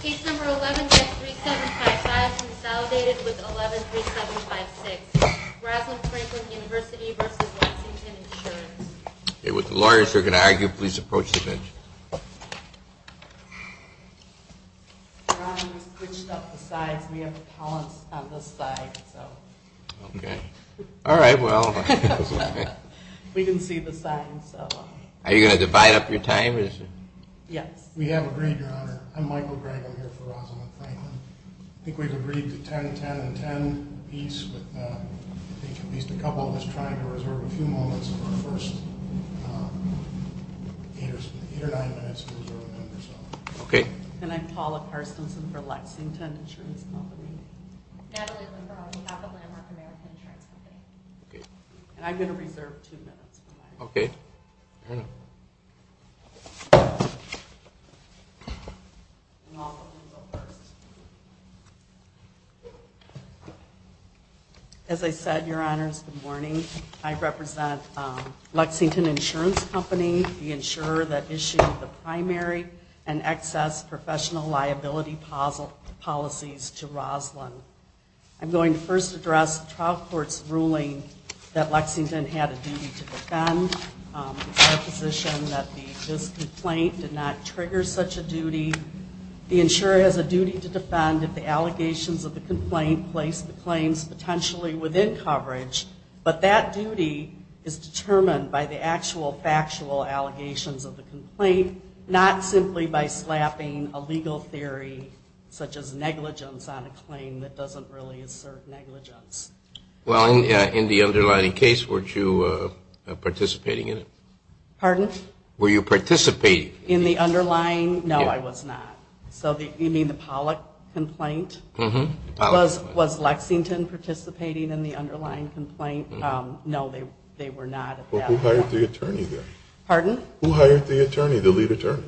Case number 11-3755 is validated with 11-3756. Rosalind Franklin University v. Lexington Insurance. Ron, we switched up the slides. We have to pause on the slides. We didn't see the slides. Yes. We have agreed, Your Honor. I'm Michael Granger here for Rosalind Franklin. I think we've agreed to 10-10-10. At least a couple of us are trying to reserve a few moments of our first eight or nine minutes. Okay. And I'm Paula Parsonson for Lexington Insurance. I'm going to reserve two minutes. Okay. As I said, Your Honor, good morning. I represent Lexington Insurance Company, the insurer that issued the primary and excess professional liability policies to Rosalind. I'm going to first address the trial court's ruling that Lexington had a duty to defend, the presupposition that the complaint did not trigger such a duty. The insurer has a duty to defend if the allegations of the complaint place the claims potentially within coverage. But that duty is determined by the actual factual allegations of the complaint, not simply by slapping a legal theory such as negligence on a claim that doesn't really assert negligence. Well, in the underlying case, were you participating in it? Pardon? Were you participating? In the underlying? No, I was not. You mean the Pollack complaint? Mm-hmm. Was Lexington participating in the underlying complaint? No, they were not. Well, who hired the attorney then? Pardon? Who hired the attorney, the lead attorney?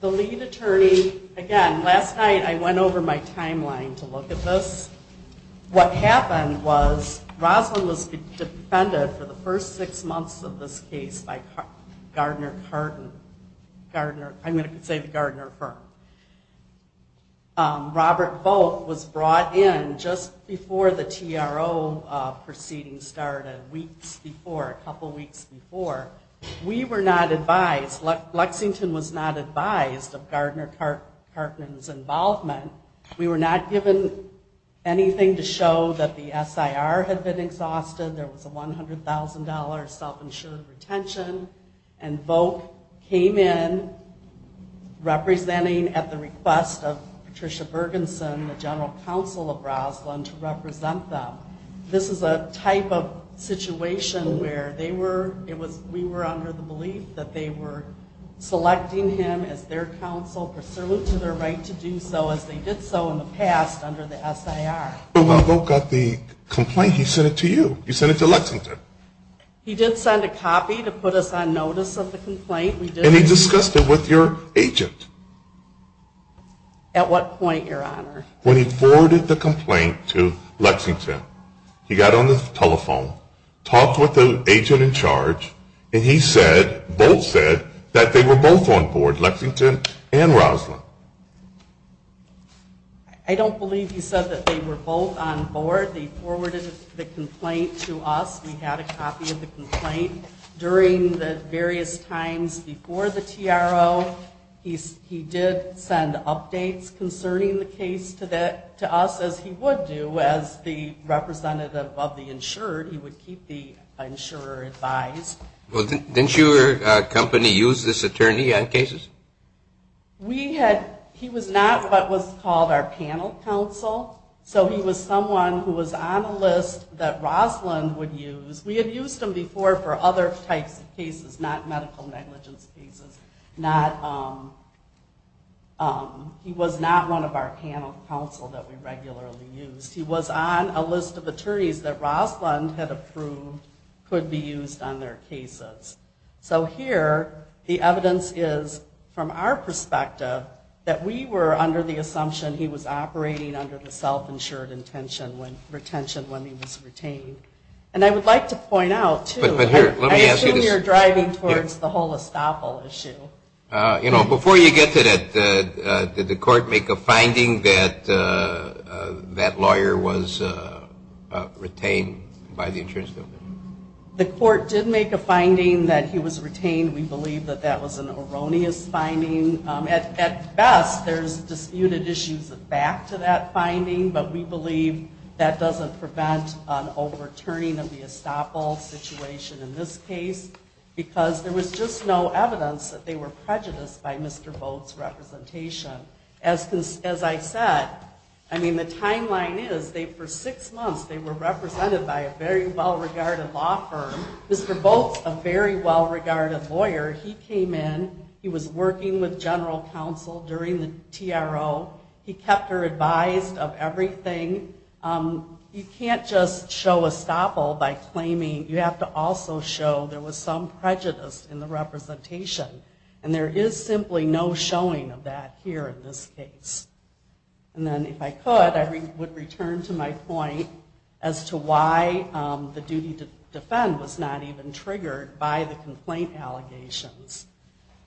The lead attorney, again, last time I went over my timeline to look at this, what happened was Roslyn was defended for the first six months of this case by Gardner Carton, Gardner, I'm going to say Gardner firm. Robert Bolt was brought in just before the TRO proceedings started, weeks before, a couple weeks before. We were not advised, Lexington was not advised of Gardner Carton's involvement. We were not given anything to show that the SIR had been exhausted. There was a $100,000 self-insured retention, and Bolt came in representing at the request of Patricia Bergenson, the general counsel of Roslyn, to represent them. This is a type of situation where we were under the belief that they were selecting him as their counsel pursuant to their right to do so, as they did so in the past under the SIR. When Bolt got the complaint, he sent it to you. You sent it to Lexington. He did send a copy to put us on notice of the complaint. And he discussed it with your agent. At what point, Your Honor? When he forwarded the complaint to Lexington. He got on the telephone, talked with the agent in charge, and he said, Bolt said, that they were both on board, Lexington and Roslyn. I don't believe you said that they were both on board. They forwarded the complaint to us. We had a copy of the complaint. During the various times before the TRO, he did send updates concerning the case to us, as he would do as the representative of the insurer. He would keep the insurer advised. Didn't your company use this attorney on cases? He was not what was called our panel counsel. So he was someone who was on the list that Roslyn would use. We had used him before for other types of cases, not medical negligence cases. He was not one of our panel counsel that we regularly used. He was on a list of attorneys that Roslyn had approved could be used on their cases. So here, the evidence is, from our perspective, that we were under the assumption he was operating under the self-insured intention when he was retained. And I would like to point out, too, I assume you're driving towards the whole estoppel issue. Before you get to that, did the court make a finding that that lawyer was retained by the insurance company? The court did make a finding that he was retained. We believe that that was an erroneous finding. At best, there's disputed issues back to that finding, but we believe that doesn't prevent an overturning of the estoppel situation in this case, because there was just no evidence that they were prejudiced by Mr. Volk's representation. As I said, I mean, the timeline is, for six months, they were represented by a very well-regarded law firm. Mr. Volk, a very well-regarded lawyer, he came in. He was working with general counsel during the TRO. He kept her advised of everything. You can't just show estoppel by claiming you have to also show there was some prejudice in the representation, and there is simply no showing of that here in this case. And then if I could, I would return to my point as to why the duty to defend was not even triggered by the complaint allegations.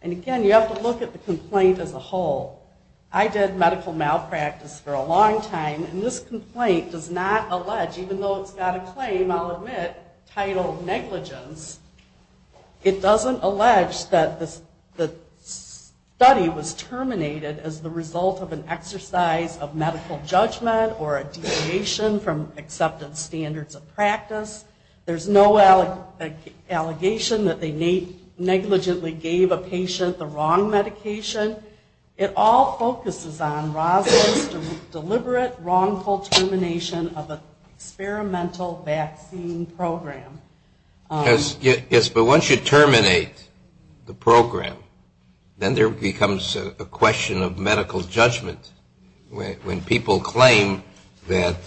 And again, you have to look at the complaint as a whole. I did medical malpractice for a long time, and this complaint does not allege, even though it's got a claim, I'll admit, titled negligence, it doesn't allege that the study was terminated as the result of an exercise of medical judgment or a deviation from accepted standards of practice. There's no allegation that they negligently gave a patient the wrong medication. It all focuses on rather deliberate, wrongful termination of an experimental vaccine program. Yes, but once you terminate the program, then there becomes a question of medical judgment. When people claim that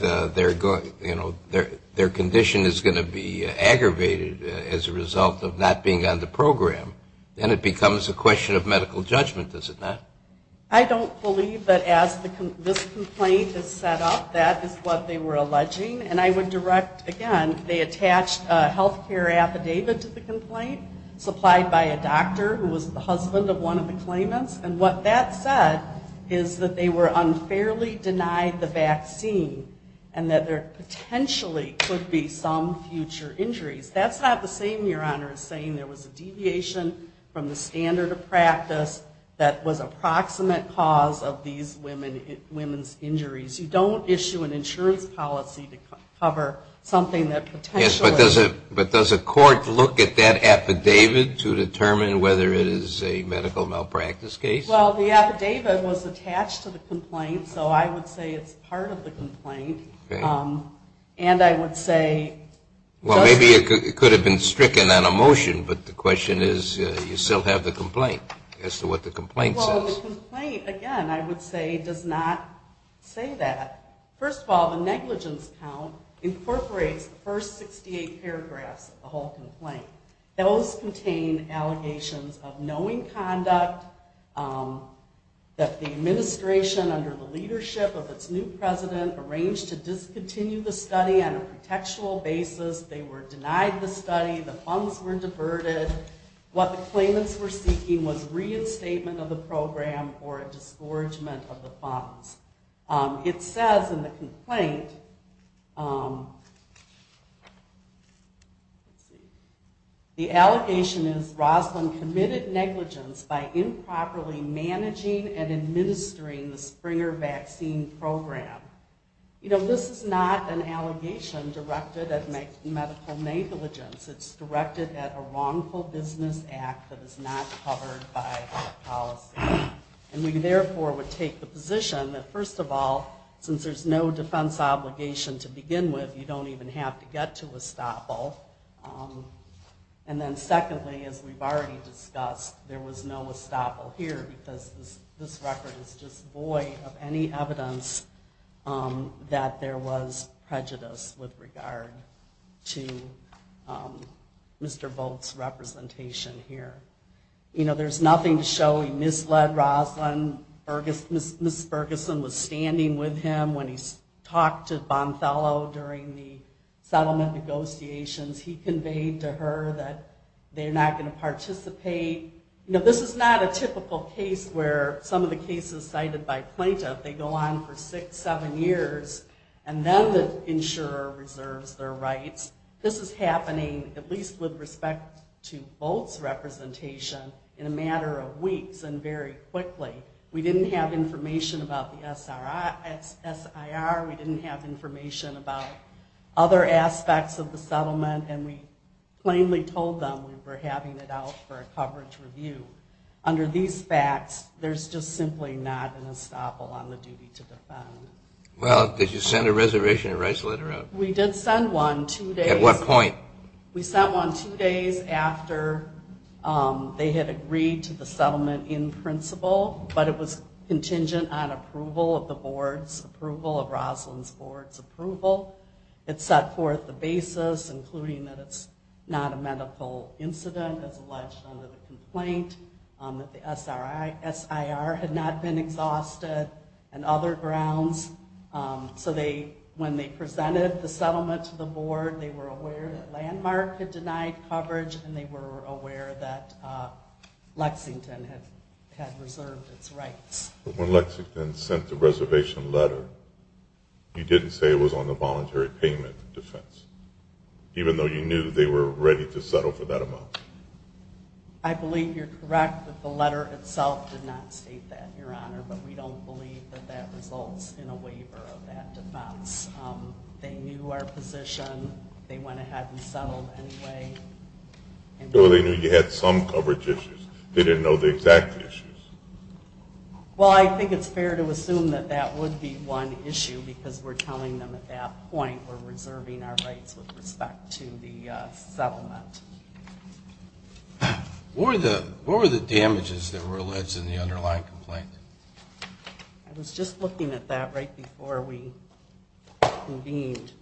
their condition is going to be aggravated as a result of not being on the program, then it becomes a question of medical judgment, does it not? I don't believe that as this complaint is set up, that is what they were alleging. And I would direct, again, they attached a health care affidavit to the complaint, supplied by a doctor who was the husband of one of the claimants, and what that said is that they were unfairly denied the vaccine and that there potentially could be some future injuries. That's not the same, Your Honor, as saying there was a deviation from the standard of practice that was a proximate cause of these women's injuries. You don't issue an insurance policy to cover something that potentially... Yes, but does a court look at that affidavit to determine whether it is a medical malpractice case? Well, the affidavit was attached to the complaint, so I would say it's part of the complaint. And I would say... Well, maybe it could have been stricken on a motion, but the question is you still have the complaint as to what the complaint says. Well, the complaint, again, I would say does not say that. First of all, the negligence count incorporates the first 68 paragraphs of the whole complaint. Those contain allegations of knowing conduct, that the administration, under the leadership of its new president, arranged to discontinue the study on a contextual basis. They were denied the study. The funds were diverted. What the claimants were seeking was reinstatement of the program or a dischargement of the funds. It says in the complaint... The allegation is Roslyn committed negligence by improperly managing and administering the Springer vaccine program. You know, this is not an allegation directed at medical negligence. It's directed at a wrongful business act that is not covered by the policy. And we, therefore, would take the position that, first of all, since there's no defense obligation to begin with, you don't even have to get to estoppel. And then secondly, as we've already discussed, there was no estoppel here because this record is just void of any evidence that there was prejudice with regard to Mr. Volk's representation here. You know, there's nothing showing Ms. Ledroslyn, Ms. Ferguson was standing with him when he talked to Bonfello during the settlement negotiations. He conveyed to her that they're not going to participate. You know, this is not a typical case where some of the cases cited by plaintiffs, they go on for six, seven years, and then the insurer reserves their rights. This is happening, at least with respect to Volk's representation, in a matter of weeks and very quickly. We didn't have information about the SIR. We didn't have information about other aspects of the settlement. And we plainly told them we were having it out for a coverage review. Under these facts, there's just simply not an estoppel on the duty to defend. Well, did you send a reservation of rights letter out? We did send one two days. At what point? We sent one two days after they had agreed to the settlement in principle, but it was contingent on approval of the board's approval, of Roslyn's board's approval. It set forth the basis, including that it's not a medical incident, that it was alleged under the complaint, that the SIR had not been exhausted, and other grounds. So when they presented the settlement to the board, they were aware that Landmark had denied coverage, and they were aware that Lexington had reserved its rights. But when Lexington sent the reservation letter, you didn't say it was on a voluntary payment defense, even though you knew that they were ready to settle for that amount. I believe you're correct that the letter itself did not state that, Your Honor, but we don't believe that that results in a waiver of that defense. They knew our position. They went ahead and settled anyway. So they knew you had some coverage issues. They didn't know the exact issues. Well, I think it's fair to assume that that would be one issue, because we're telling them at that point we're reserving our rights with respect to the settlement. What were the damages that were alleged in the underlying complaint? I was just looking at that right before we convened.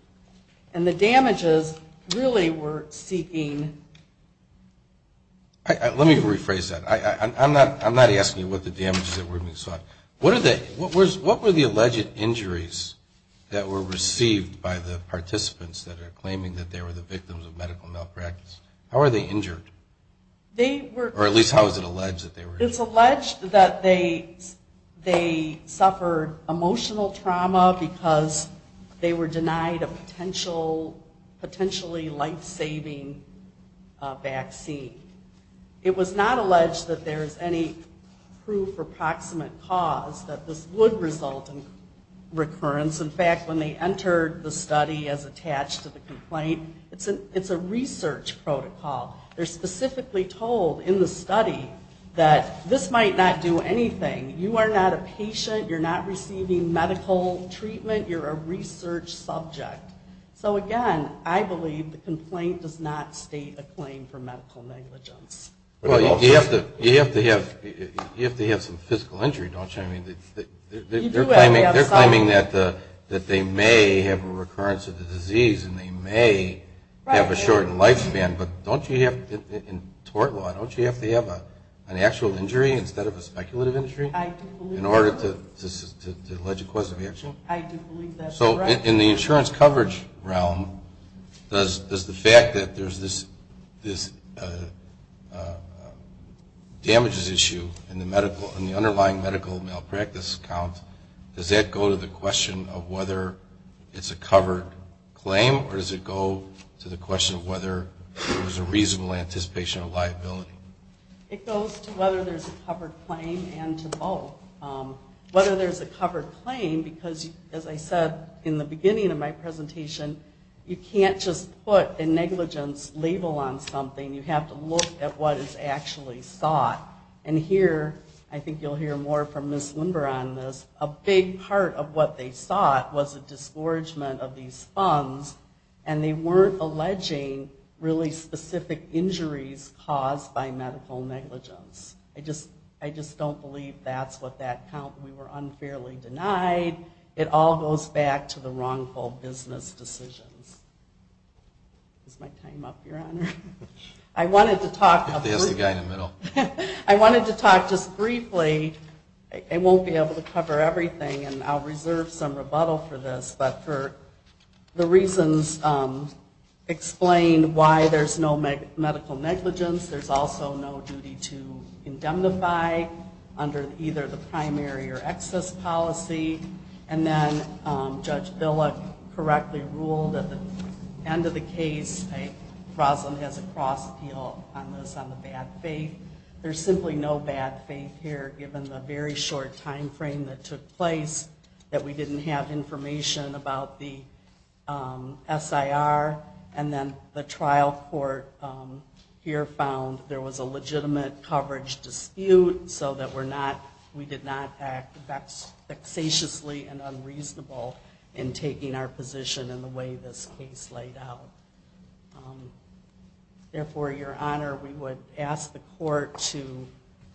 And the damages really were seeking... Let me rephrase that. I'm not asking what the damages that were sought. What were the alleged injuries that were received by the participants that are claiming that they were the victims of medical malpractice? How are they injured? Or at least how is it alleged that they were injured? It's alleged that they suffered emotional trauma because they were denied a potentially lifesaving vaccine. It was not alleged that there's any proof or proximate cause that this would result in recurrence. In fact, when they entered the study as attached to the complaint, it's a research protocol. They're specifically told in the study that this might not do anything. You are not a patient. You're not receiving medical treatment. You're a research subject. So again, I believe the complaint does not state a claim for medical negligence. You have to have some physical injury, don't you? They're claiming that they may have a recurrence of the disease and they may have a shorter lifespan. In tort law, don't you have to have an actual injury instead of a speculative injury in order to allege a cause of injury? So in the insurance coverage realm, does the fact that there's this damages issue in the underlying medical malpractice account, does that go to the question of whether it's a covered claim or does it go to the question of whether there's a reasonable anticipation of liability? It goes to whether there's a covered claim and to both. Whether there's a covered claim because, as I said in the beginning of my presentation, you can't just put a negligence label on something. You have to look at what is actually sought. I think you'll hear more from Ms. Limber on this. A big part of what they sought was a disgorgement of these funds and they weren't alleging really specific injuries caused by medical negligence. I just don't believe that's what that counts. We were unfairly denied. It all goes back to the wrongful business decision. Is my time up, Your Honor? I wanted to talk just briefly. I won't be able to cover everything and I'll reserve some rebuttal for this, but for the reasons explained why there's no medical negligence, there's also no duty to indemnify under either the primary or excess policy. And then Judge Dillard correctly ruled at the end of the case, Roslyn has a cross appeal on this on the bad faith. There's simply no bad faith here given the very short time frame that took place that we didn't have information about the SIR. And then the trial court here found there was a legitimate coverage dispute so that we did not act facetiously and unreasonable in taking our position in the way this case laid out. Therefore, Your Honor, we would ask the court to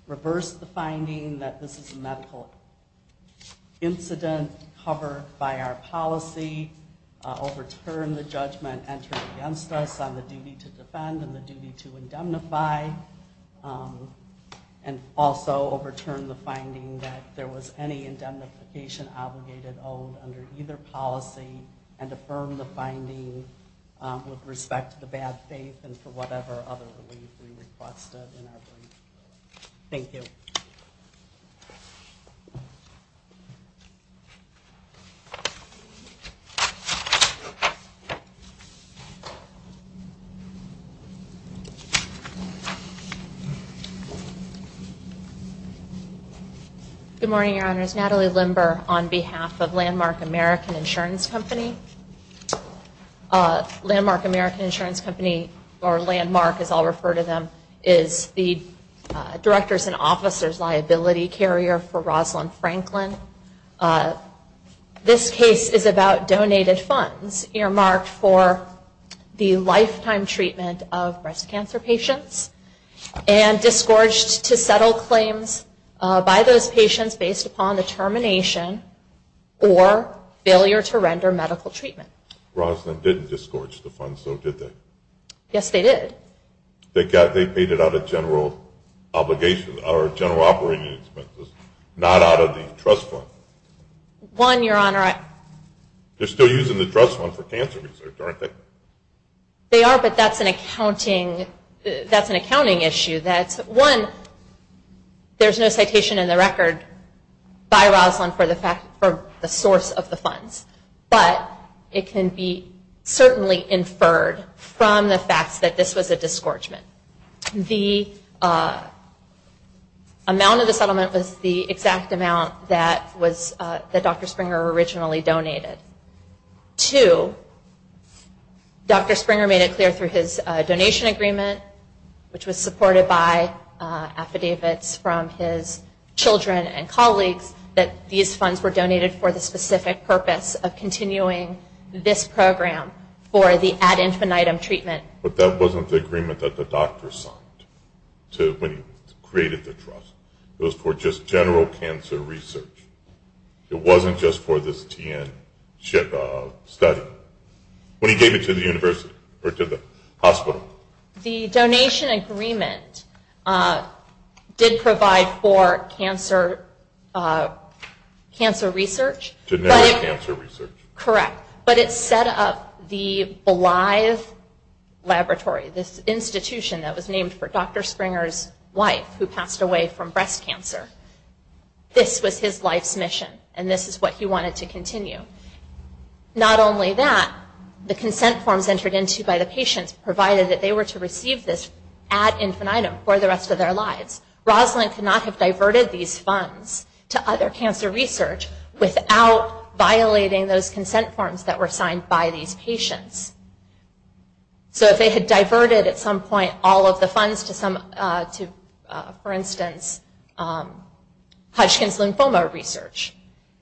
reverse the finding that this is a medical incident covered by our policy, overturn the judgment entered against us on the duty to defend and the duty to indemnify, and also overturn the finding that there was any indemnification obligated on under either policy and affirm the finding with respect to the bad faith and for whatever other relief we requested. Thank you. Good morning, Your Honor. It's Natalie Limber on behalf of Landmark American Insurance Company. Landmark American Insurance Company, or Landmark as I'll refer to them, is the director's and officer's liability carrier for Roslyn Franklin. This case is about donated funds earmarked for the lifetime treatment of breast cancer patients and disgorged to settle claims by those patients based upon the termination or failure to render medical treatment. Roslyn didn't disgorge the funds, though, did they? Yes, they did. They paid it out of general obligation or general operating expenses, not out of the trust fund. One, Your Honor. They're still using the trust fund for cancer research, aren't they? They are, but that's an accounting issue. One, there's no citation in the record by Roslyn for the source of the funds, but it can be certainly inferred from the fact that this was a disgorgement. The amount of the settlement was the exact amount that Dr. Springer originally donated. Two, Dr. Springer made it clear through his donation agreement, which was supported by affidavits from his children and colleagues, that these funds were donated for the specific purpose of continuing this program for the ad infinitum treatment. But that wasn't the agreement that the doctor signed when he created the trust. It was for just general cancer research. It wasn't just for this TN study. When he gave it to the hospital. The donation agreement did provide for cancer research. Genetic cancer research. Correct. But it set up the Bly's Laboratory, this institution that was named for Dr. Springer's wife, who passed away from breast cancer. This was his life's mission, and this is what he wanted to continue. Not only that, the consent forms entered into by the patients provided that they were to receive this ad infinitum for the rest of their lives. Roslyn could not have diverted these funds to other cancer research without violating those consent forms that were signed by these patients. So if they had diverted at some point all of the funds to, for instance, Hodgkin's lymphoma research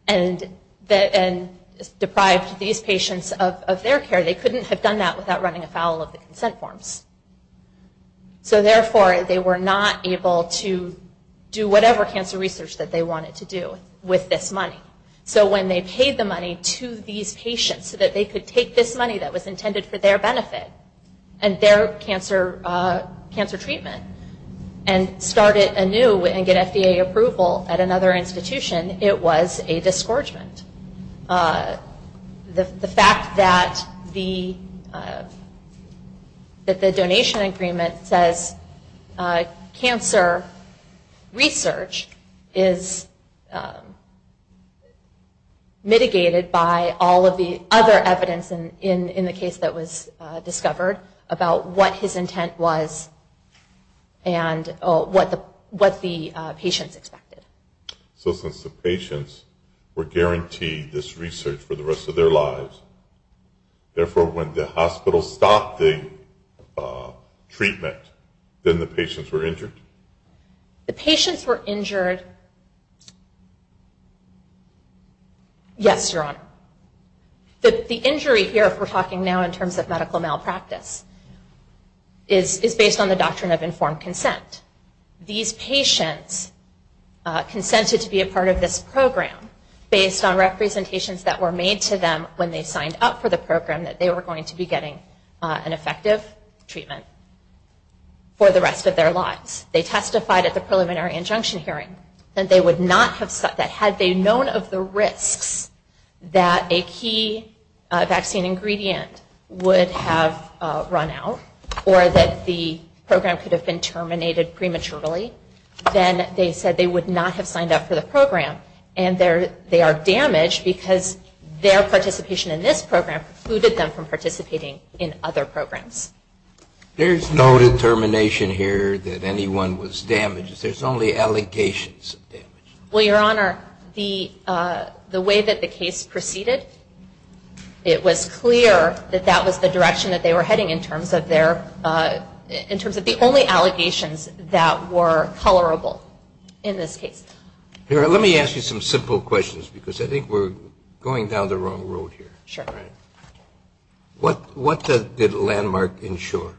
and deprived these patients of their care, they couldn't have done that without running afoul of the consent forms. So therefore, they were not able to do whatever cancer research that they wanted to do with this money. So when they paid the money to these patients so that they could take this money that was intended for their benefit and their cancer treatment and started anew and get FDA approval at another institution, it was a disgorgement. The fact that the donation agreement says cancer research is mitigated by all of the other evidence in the case that was discovered about what his intent was and what the patients expected. So since the patients were guaranteed this research for the rest of their lives, therefore when the hospital stopped the treatment, then the patients were injured? The patients were injured. Yes, Your Honor. The injury here, if we're talking now in terms of medical malpractice, is based on the doctrine of informed consent. These patients consented to be a part of this program based on representations that were made to them when they signed up for the program that they were going to be getting an effective treatment for the rest of their lives. They testified at the preliminary injunction hearing that they would not have cut that. Had they known of the risk that a key vaccine ingredient would have run out or that the program could have been terminated prematurely, then they said they would not have signed up for the program. And they are damaged because their participation in this program precluded them from participating in other programs. There's no determination here that anyone was damaged. There's only allegations of damage. Well, Your Honor, the way that the case proceeded, it was clear that that was the direction that they were heading in terms of their in terms of the only allegations that were tolerable in this case. Here, let me ask you some simple questions because I think we're going down the wrong road here. Sure. What did Landmark ensure?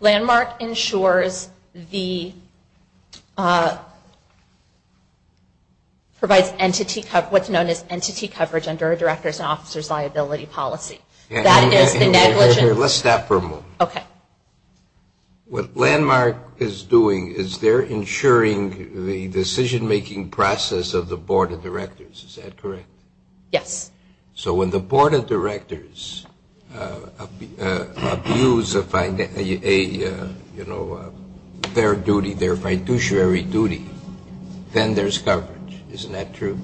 Landmark ensures what's known as entity coverage under a director's officer's liability policy. Let's stop for a moment. Okay. What Landmark is doing is they're ensuring the decision-making process of the board of directors. Is that correct? Yes. So when the board of directors abuse their fiduciary duty, then there's coverage. Isn't that true?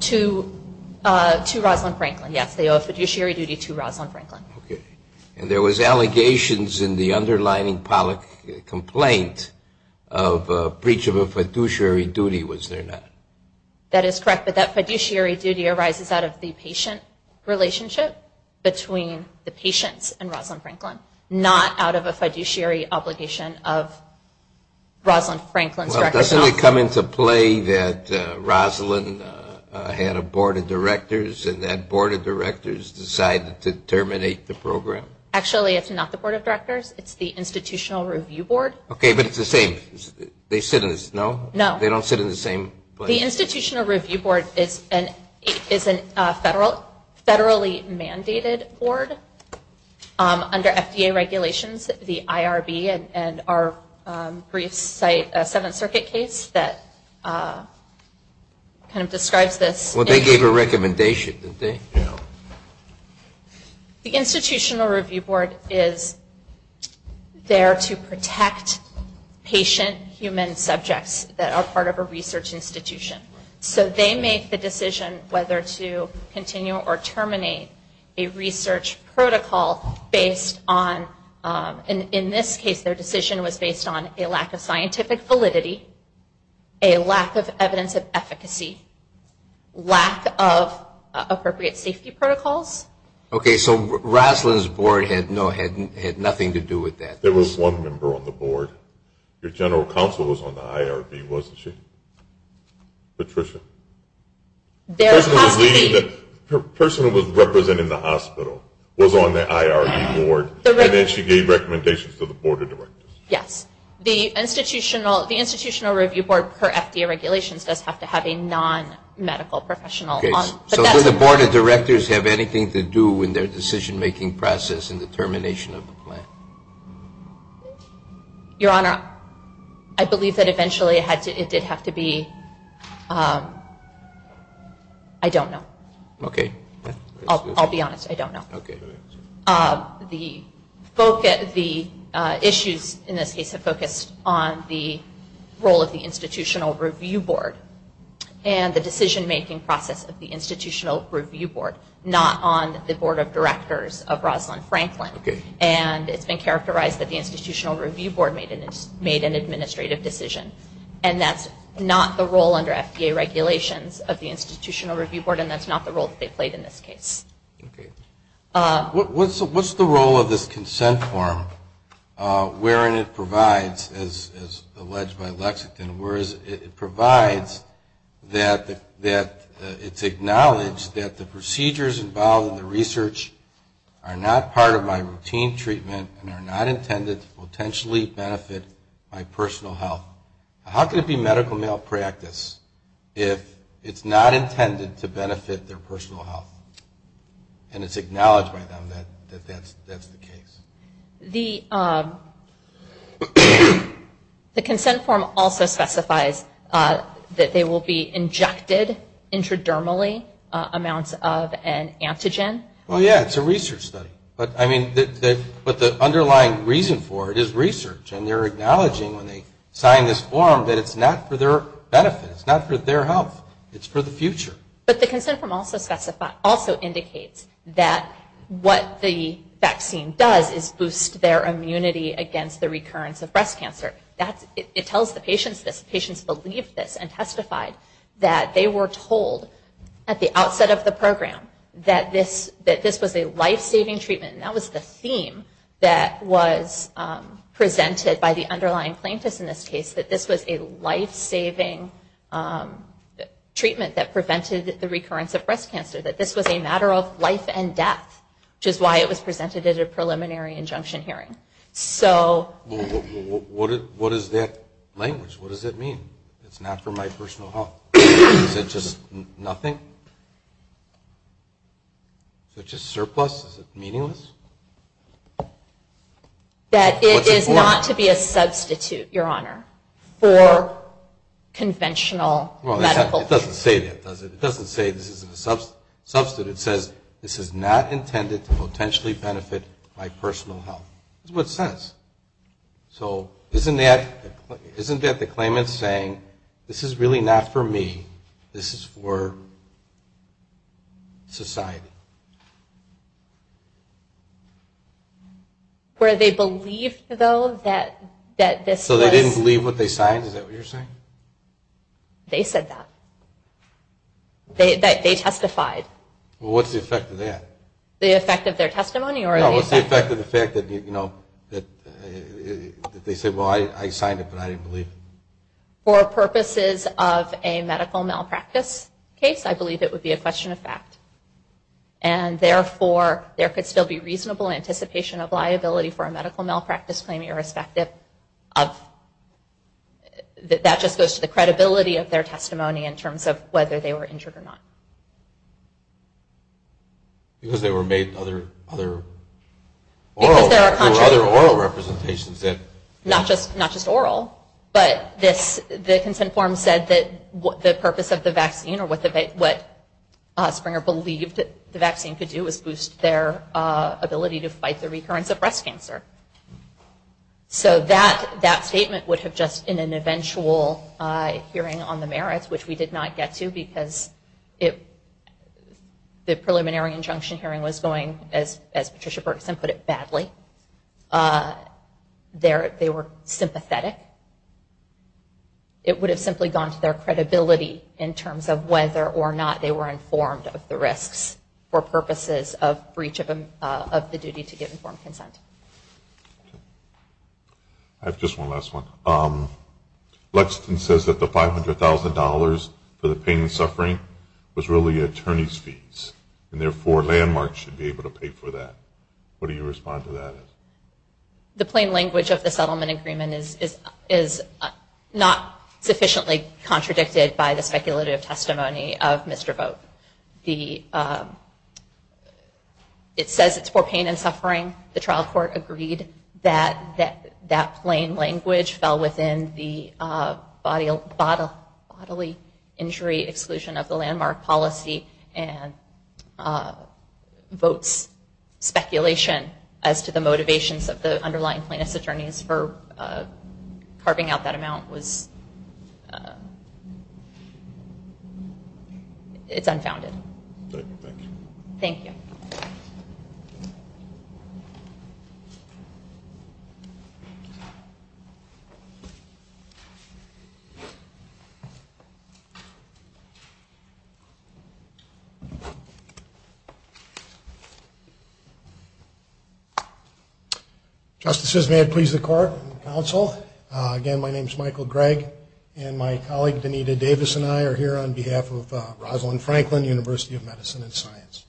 To Rosalind Franklin, yes. They owe a fiduciary duty to Rosalind Franklin. Okay. And there was allegations in the underlying Pollack complaint of breach of a fiduciary duty, was there not? That is correct. That fiduciary duty arises out of the patient relationship between the patient and Rosalind Franklin, not out of a fiduciary obligation of Rosalind Franklin's director. Doesn't it come into play that Rosalind had a board of directors and that board of directors decided to terminate the program? Actually, it's not the board of directors. It's the institutional review board. Okay, but it's the same. They sit in this, no? No. They don't sit in the same place? The institutional review board is a federally mandated board under FDA regulations. The IRB and our briefs cite a Seventh Circuit case that kind of describes this. Well, they gave a recommendation, didn't they? The institutional review board is there to protect patient human subjects that are part of a research institution. So they make the decision whether to continue or terminate a research protocol based on, and in this case their decision was based on a lack of scientific validity, a lack of evidence of efficacy, lack of appropriate safety protocols. Okay, so Rosalind's board had nothing to do with that. There was one member on the board. Your general counsel was on the IRB, wasn't she? Patricia? The person who was representing the hospital was on the IRB board and then she gave recommendations to the board of directors. Yes. The institutional review board per FDA regulations does have to have a non-medical professional. Okay, so did the board of directors have anything to do with their decision-making process and the termination of the plan? Your Honor, I believe that eventually it did have to be, I don't know. Okay. I'll be honest, I don't know. Okay, all right. The issues in this case have focused on the role of the institutional review board and the decision-making process of the institutional review board, not on the board of directors of Rosalind Franklin. Okay. And it's been characterized that the institutional review board made an administrative decision and that's not the role under FDA regulations of the institutional review board and that's not the role that they played in this case. Okay. What's the role of this consent form wherein it provides, as alleged by Lexington, it provides that it's acknowledged that the procedures involved in the research are not part of my routine treatment and are not intended to potentially benefit my personal health. How can it be medical malpractice if it's not intended to benefit their personal health and it's acknowledged by them that that's the case? The consent form also specifies that they will be injected intradermally amounts of an antigen. Well, yeah, it's a research study. But the underlying reason for it is research and they're acknowledging when they sign this form that it's not for their benefit. It's not for their health. It's for the future. But the consent form also indicates that what the vaccine does is boost their immunity against the recurrence of breast cancer. It tells the patients that the patients believed this and testified that they were told at the outset of the program that this was a life-saving treatment. That was the theme that was presented by the underlying plaintiffs in this case, that this was a life-saving treatment that prevented the recurrence of breast cancer, that this was a matter of life and death, which is why it was presented at a preliminary injunction hearing. What is that language? What does it mean? It's not for my personal health. Is it just nothing? Is it just surplus? Is it meaningless? That it is not to be a substitute, Your Honor, for conventional medical treatment. Well, it doesn't say that, does it? It doesn't say this is a substitute. It says this is not intended to potentially benefit my personal health. This is what it says. So isn't that the claimant saying, this is really not for me. This is for society. Where they believed, though, that this was... So they didn't believe what they signed? Is that what you're saying? They said that. They testified. Well, what's the effect of that? The effect of their testimony? What's the effect of the fact that they said, well, I signed it, but I didn't believe it? For purposes of a medical malpractice case, I believe it would be a question of fact. And therefore, there could still be reasonable anticipation of liability for a medical malpractice claim, irrespective of the credibility of their testimony in terms of whether they were injured or not. Because they were made other oral representations. Not just oral. But the consent form said that the purpose of the vaccine, or what Springer believed the vaccine could do, was boost their ability to fight the recurrence of breast cancer. So that statement would have just been an eventual hearing on the merits, which we did not get to because the preliminary injunction hearing was going, as Patricia Berkson put it, badly. They were sympathetic. It would have simply gone to their credibility in terms of whether or not they were informed of the risks for purposes of breach of the duty to give informed consent. I have just one last one. Lexington says that the $500,000 for the pain and suffering was really attorney's fees. And therefore, Landmark should be able to pay for that. What do you respond to that as? The plain language of the settlement agreement is not sufficiently contradicted by the speculative testimony of Mr. Vogt. It says it's for pain and suffering. The trial court agreed that that plain language fell within the bodily injury exclusion of the Landmark policy and Vogt's speculation as to the motivations of the underlying plaintiff's attorneys for carving out that amount. It's unfounded. Thank you. Justices, may I please record the counsel? Again, my name is Michael Gregg, and my colleague Danita Davis and I are here on behalf of Rosalind Franklin, University of Medicine and Science.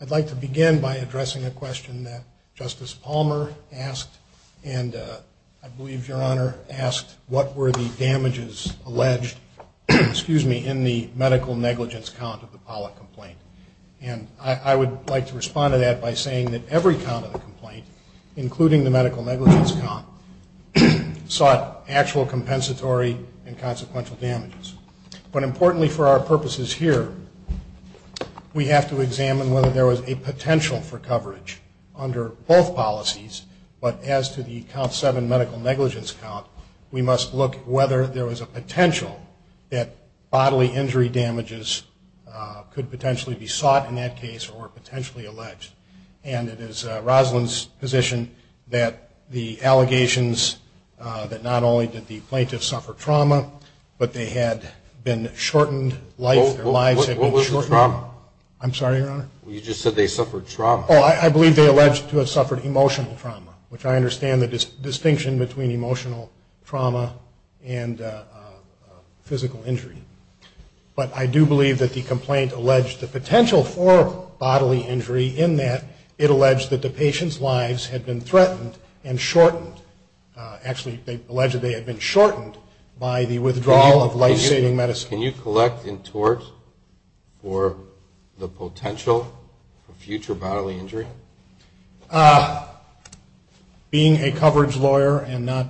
I'd like to begin by addressing a question that Justice Palmer asked, and I believe Your Honor asked, what were the damages alleged in the medical negligence count of the Pollack complaint? And I would like to respond to that by saying that every count of the complaint, including the medical negligence count, sought actual compensatory and consequential damages. But importantly for our purposes here, we have to examine whether there was a potential for coverage under both policies, but as to the count seven medical negligence count, we must look at whether there was a potential that bodily injury damages could potentially be sought in that case or potentially alleged. And it is Rosalind's position that the allegations that not only did the plaintiff suffer trauma, but they had been shortened life, their lives had been shortened. What was the trauma? I'm sorry, Your Honor? You just said they suffered trauma. Oh, I believe they alleged to have suffered emotional trauma, which I understand the distinction between emotional trauma and physical injury. But I do believe that the complaint alleged the potential for bodily injury in that it alleged that the patient's lives had been threatened and shortened, actually alleged they had been shortened by the withdrawal of life-saving medicine. Can you collect in torts for the potential for future bodily injury? Being a coverage lawyer and not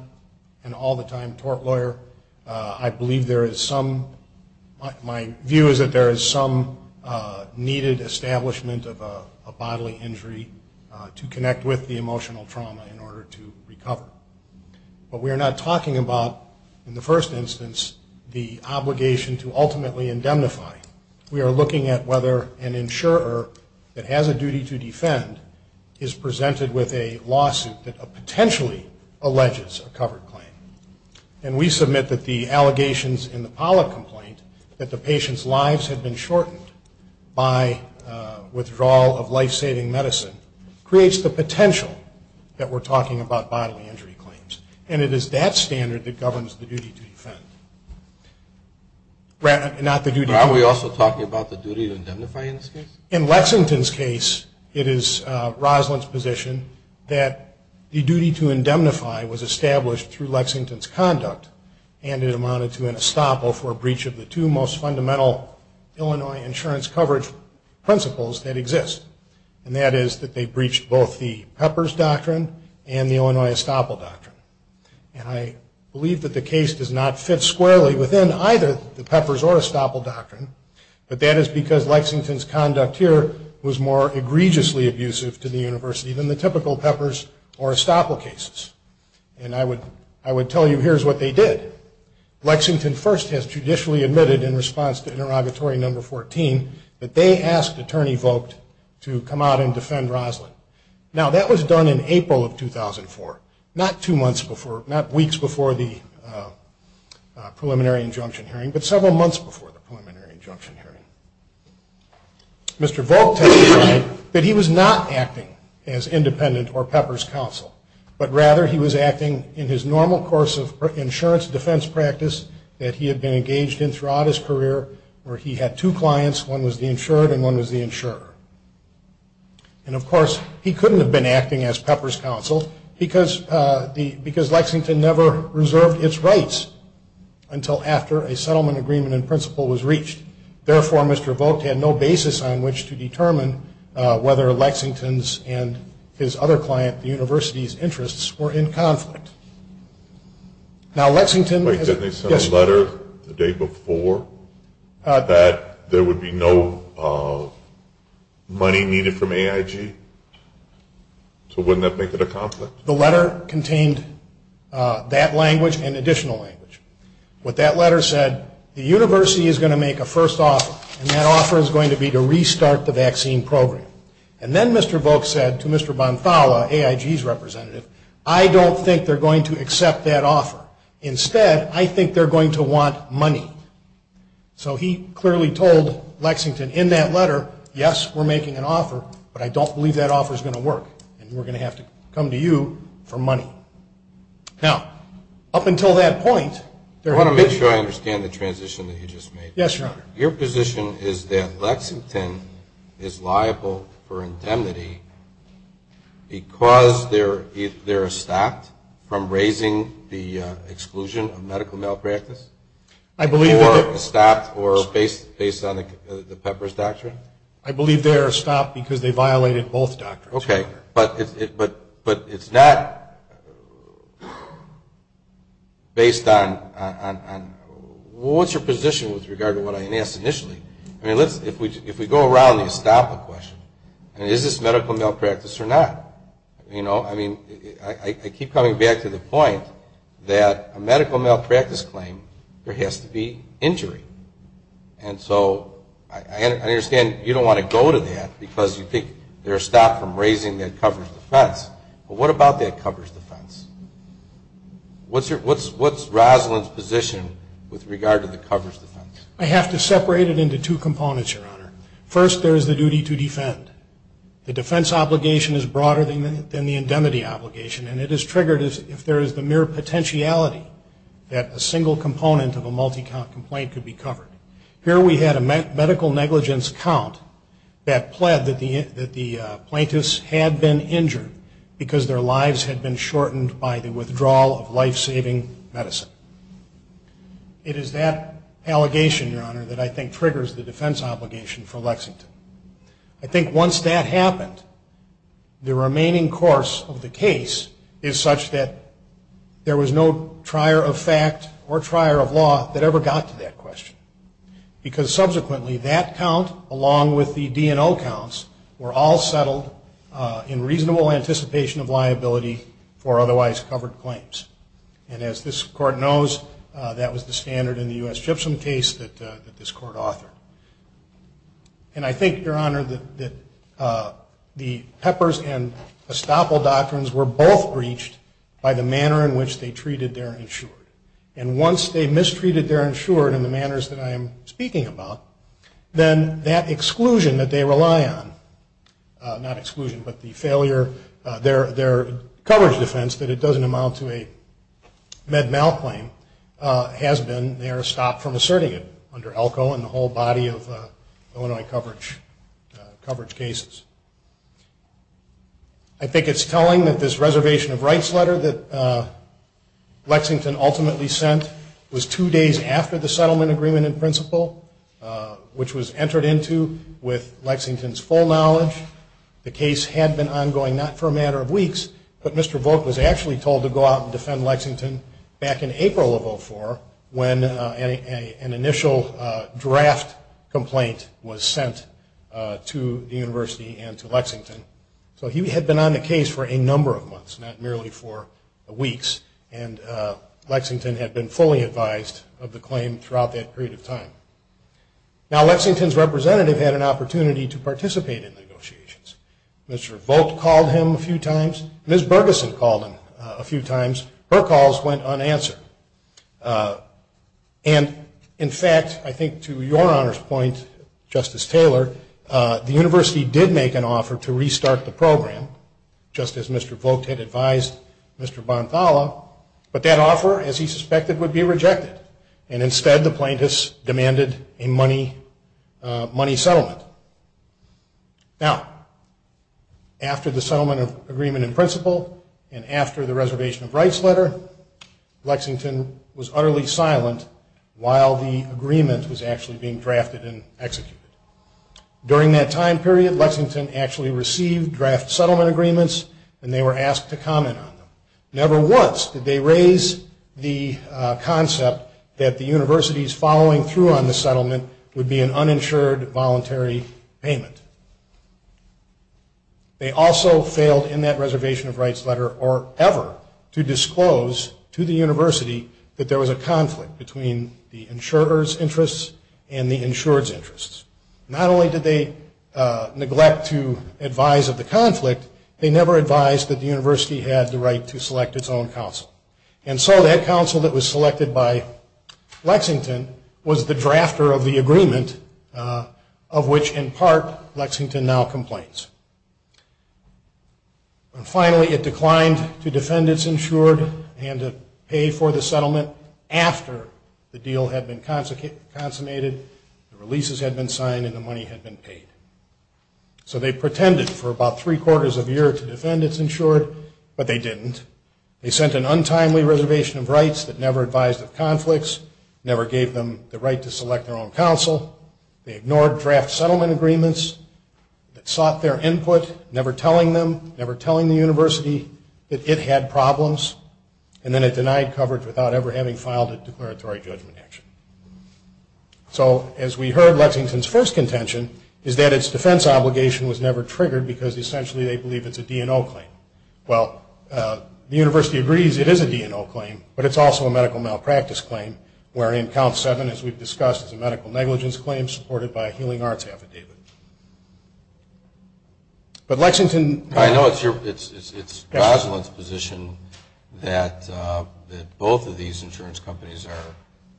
an all-the-time court lawyer, I believe there is some, my view is that there is some needed establishment of bodily injury to connect with the emotional trauma in order to recover. But we are not talking about, in the first instance, the obligation to ultimately indemnify. We are looking at whether an insurer that has a duty to defend is presented with a lawsuit that potentially alleges a covered claim. And we submit that the allegations in the Pollock complaint, that the patient's lives had been shortened by withdrawal of life-saving medicine, creates the potential that we're talking about bodily injury claims. And it is that standard that governs the duty to defend. Brad, not the duty to defend. Are we also talking about the duty to indemnify in this case? In Lexington's case, it is Roslyn's position that the duty to indemnify was established through Lexington's conduct and it amounted to an estoppel for a breach of the two most fundamental Illinois insurance coverage principles that exist. And that is that they breached both the Pepper's Doctrine and the Illinois Estoppel Doctrine. And I believe that the case does not fit squarely within either the Pepper's or Estoppel Doctrine, but that is because Lexington's conduct here was more egregiously abusive to the university than the typical Pepper's or Estoppel cases. And I would tell you here's what they did. Lexington first has judicially admitted in response to Interrogatory No. 14 that they asked Attorney Vogt to come out and defend Roslyn. Now, that was done in April of 2004, not weeks before the preliminary injunction hearing, but several months before the preliminary injunction hearing. Mr. Vogt testified that he was not acting as independent or Pepper's counsel, but rather he was acting in his normal course of insurance defense practice that he had been engaged in throughout his career where he had two clients. One was the insured and one was the insurer. And, of course, he couldn't have been acting as Pepper's counsel because Lexington never reserved its rights until after a settlement agreement in principle was reached. Therefore, Mr. Vogt had no basis on which to determine whether Lexington's and his other client, the university's, interests were in conflict. Now, Lexington... Wait, didn't they send a letter the day before that there would be no money needed from AIG? So wouldn't that make it a conflict? The letter contained that language and additional language. What that letter said, the university is going to make a first offer, and that offer is going to be to restart the vaccine program. And then Mr. Vogt said to Mr. Bonfalla, AIG's representative, I don't think they're going to accept that offer. Instead, I think they're going to want money. So he clearly told Lexington in that letter, yes, we're making an offer, but I don't believe that offer is going to work, and we're going to have to come to you for money. Now, up until that point... I want to make sure I understand the transition that you just made. Yes, Your Honor. Your position is that Lexington is liable for indemnity because they're staffed from raising the exclusion of medical malpractice? I believe they're... Or staffed based on the Pepper's doctrine? I believe they're staffed because they violated both doctrines. Okay, but it's not based on... What's your position with regard to what I asked initially? I mean, if we go around and stop the question, is this medical malpractice or not? I mean, I keep coming back to the point that a medical malpractice claim, there has to be injury. And so I understand you don't want to go to that because you think they're staffed from raising that covers the funds, but what about that covers the funds? What's Roslyn's position with regard to the covers the funds? I have to separate it into two components, Your Honor. First, there is the duty to defend. The defense obligation is broader than the indemnity obligation, and it is triggered if there is the mere potentiality that a single component of a multi-count complaint could be covered. Here we had a medical negligence count that pled that the plaintiffs had been injured because their lives had been shortened by the withdrawal of life-saving medicine. It is that allegation, Your Honor, that I think triggers the defense obligation for Lexington. I think once that happened, the remaining course of the case is such that there was no trier of fact or trier of law that ever got to that question because subsequently that count, along with the D&O counts, were all settled in reasonable anticipation of liability for otherwise covered claims. And as this Court knows, that was the standard in the U.S. Gypsum case that this Court authored. And I think, Your Honor, that the Peppers and Estoppel doctrines were both breached by the manner in which they treated their insured. And once they mistreated their insured in the manners that I am speaking about, then that exclusion that they rely on, not exclusion, but the failure, their coverage defense, but it doesn't amount to a med-mal claim, has been their stop from asserting it under ELCO and the whole body of Illinois coverage cases. I think it's telling that this reservation of rights letter that Lexington ultimately sent was two days after the settlement agreement in principle, which was entered into with Lexington's full knowledge. The case had been ongoing not for a matter of weeks, but Mr. Bork was actually told to go out and defend Lexington back in April of 2004 when an initial draft complaint was sent to the University and to Lexington. So he had been on the case for a number of months, not merely for weeks. And Lexington had been fully advised of the claim throughout that period of time. Now Lexington's representative had an opportunity to participate in negotiations. Mr. Bork called him a few times. Ms. Bergeson called him a few times. Her calls went unanswered. And, in fact, I think to your honor's point, Justice Taylor, the University did make an offer to restart the program, just as Mr. Bork had advised Mr. Bonfalla, but that offer, as he suspected, would be rejected. And instead the plaintiffs demanded a money settlement. Now, after the settlement agreement in principle and after the reservation of rights letter, Lexington was utterly silent while the agreement was actually being drafted and executed. During that time period, Lexington actually received draft settlement agreements and they were asked to comment on them. Never once did they raise the concept that the University's following through on the settlement would be an uninsured voluntary payment. They also failed in that reservation of rights letter or ever to disclose to the University that there was a conflict between the insurer's interests and the insured's interests. Not only did they neglect to advise of the conflict, they never advised that the University had the right to select its own counsel. And so that counsel that was selected by Lexington was the drafter of the agreement of which, in part, Lexington now complains. And finally, it declined to defend its insured and to pay for the settlement after the deal had been consummated, the releases had been signed, and the money had been paid. So they pretended for about three quarters of a year to defend its insured, but they didn't. They sent an untimely reservation of rights that never advised of conflicts, never gave them the right to select their own counsel. They ignored draft settlement agreements, sought their input, never telling them, never telling the University that it had problems, and then it denied coverage without ever having filed a declaratory judgment action. So as we heard, Lexington's first contention is that its defense obligation was never triggered because essentially they believe it's a D&O claim. Well, the University agrees it is a D&O claim, but it's also a medical malpractice claim, wherein Comp 7, as we've discussed, is a medical negligence claim supported by a healing arts affidavit. But Lexington... I know it's Roswell's position that both of these insurance companies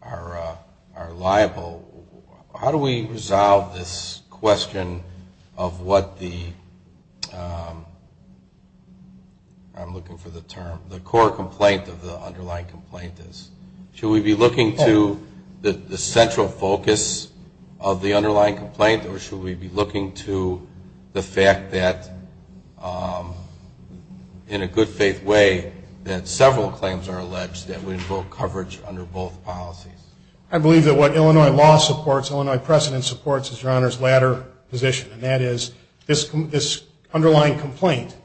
are liable. How do we resolve this question of what the... I'm looking for the term, the core complaint of the underlying complaint is. Should we be looking to the central focus of the underlying complaint, or should we be looking to the fact that, in a good faith way, that several claims are alleged that involve coverage under both policies? I believe that what Illinois law supports, Illinois precedent supports, is your Honor's latter position, and that is this underlying complaint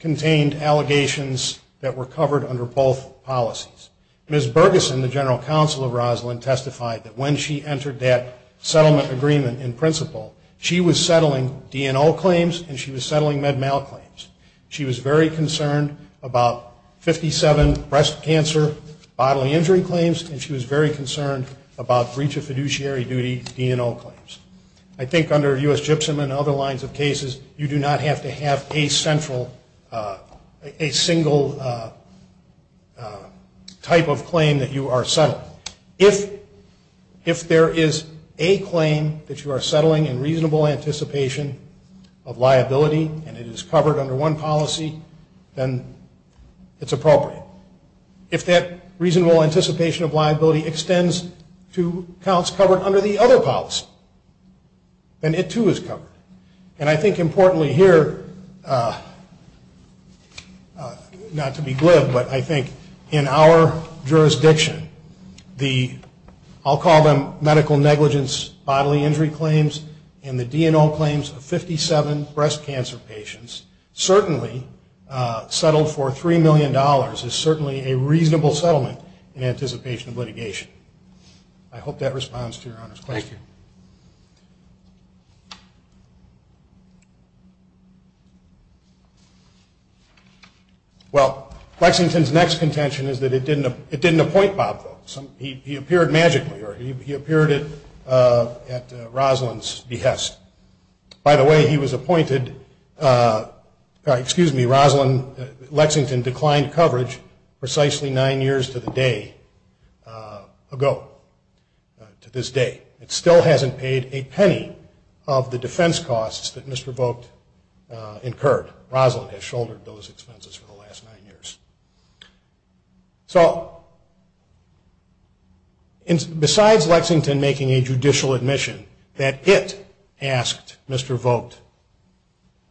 contained allegations that were covered under both policies. Ms. Bergeson, the general counsel of Roswell, testified that when she entered that settlement agreement, in principle, she was settling D&O claims and she was settling med mal claims. She was very concerned about 57 breast cancer bodily injury claims, and she was very concerned about breach of fiduciary duty D&O claims. I think under U.S. Gypsum and other lines of cases, you do not have to have a single type of claim that you are settling. If there is a claim that you are settling in reasonable anticipation of liability and it is covered under one policy, then it's appropriate. If that reasonable anticipation of liability extends to counts covered under the other policy, then it, too, is covered. And I think importantly here, not to be glib, but I think in our jurisdiction, I'll call them medical negligence bodily injury claims and the D&O claims of 57 breast cancer patients certainly settled for $3 million is certainly a reasonable settlement in anticipation of litigation. I hope that responds to your honors. Thank you. Well, Flexington's next contention is that it didn't appoint Bob, though. He appeared magically, or he appeared at Roswell's behest. By the way, he was appointed, excuse me, Roswell, Lexington declined coverage precisely nine years to the day ago, to this day. It still hasn't paid a penny of the defense costs that Mr. Vogt incurred. Roswell has shouldered those expenses for the last nine years. So besides Lexington making a judicial admission that it asked Mr. Vogt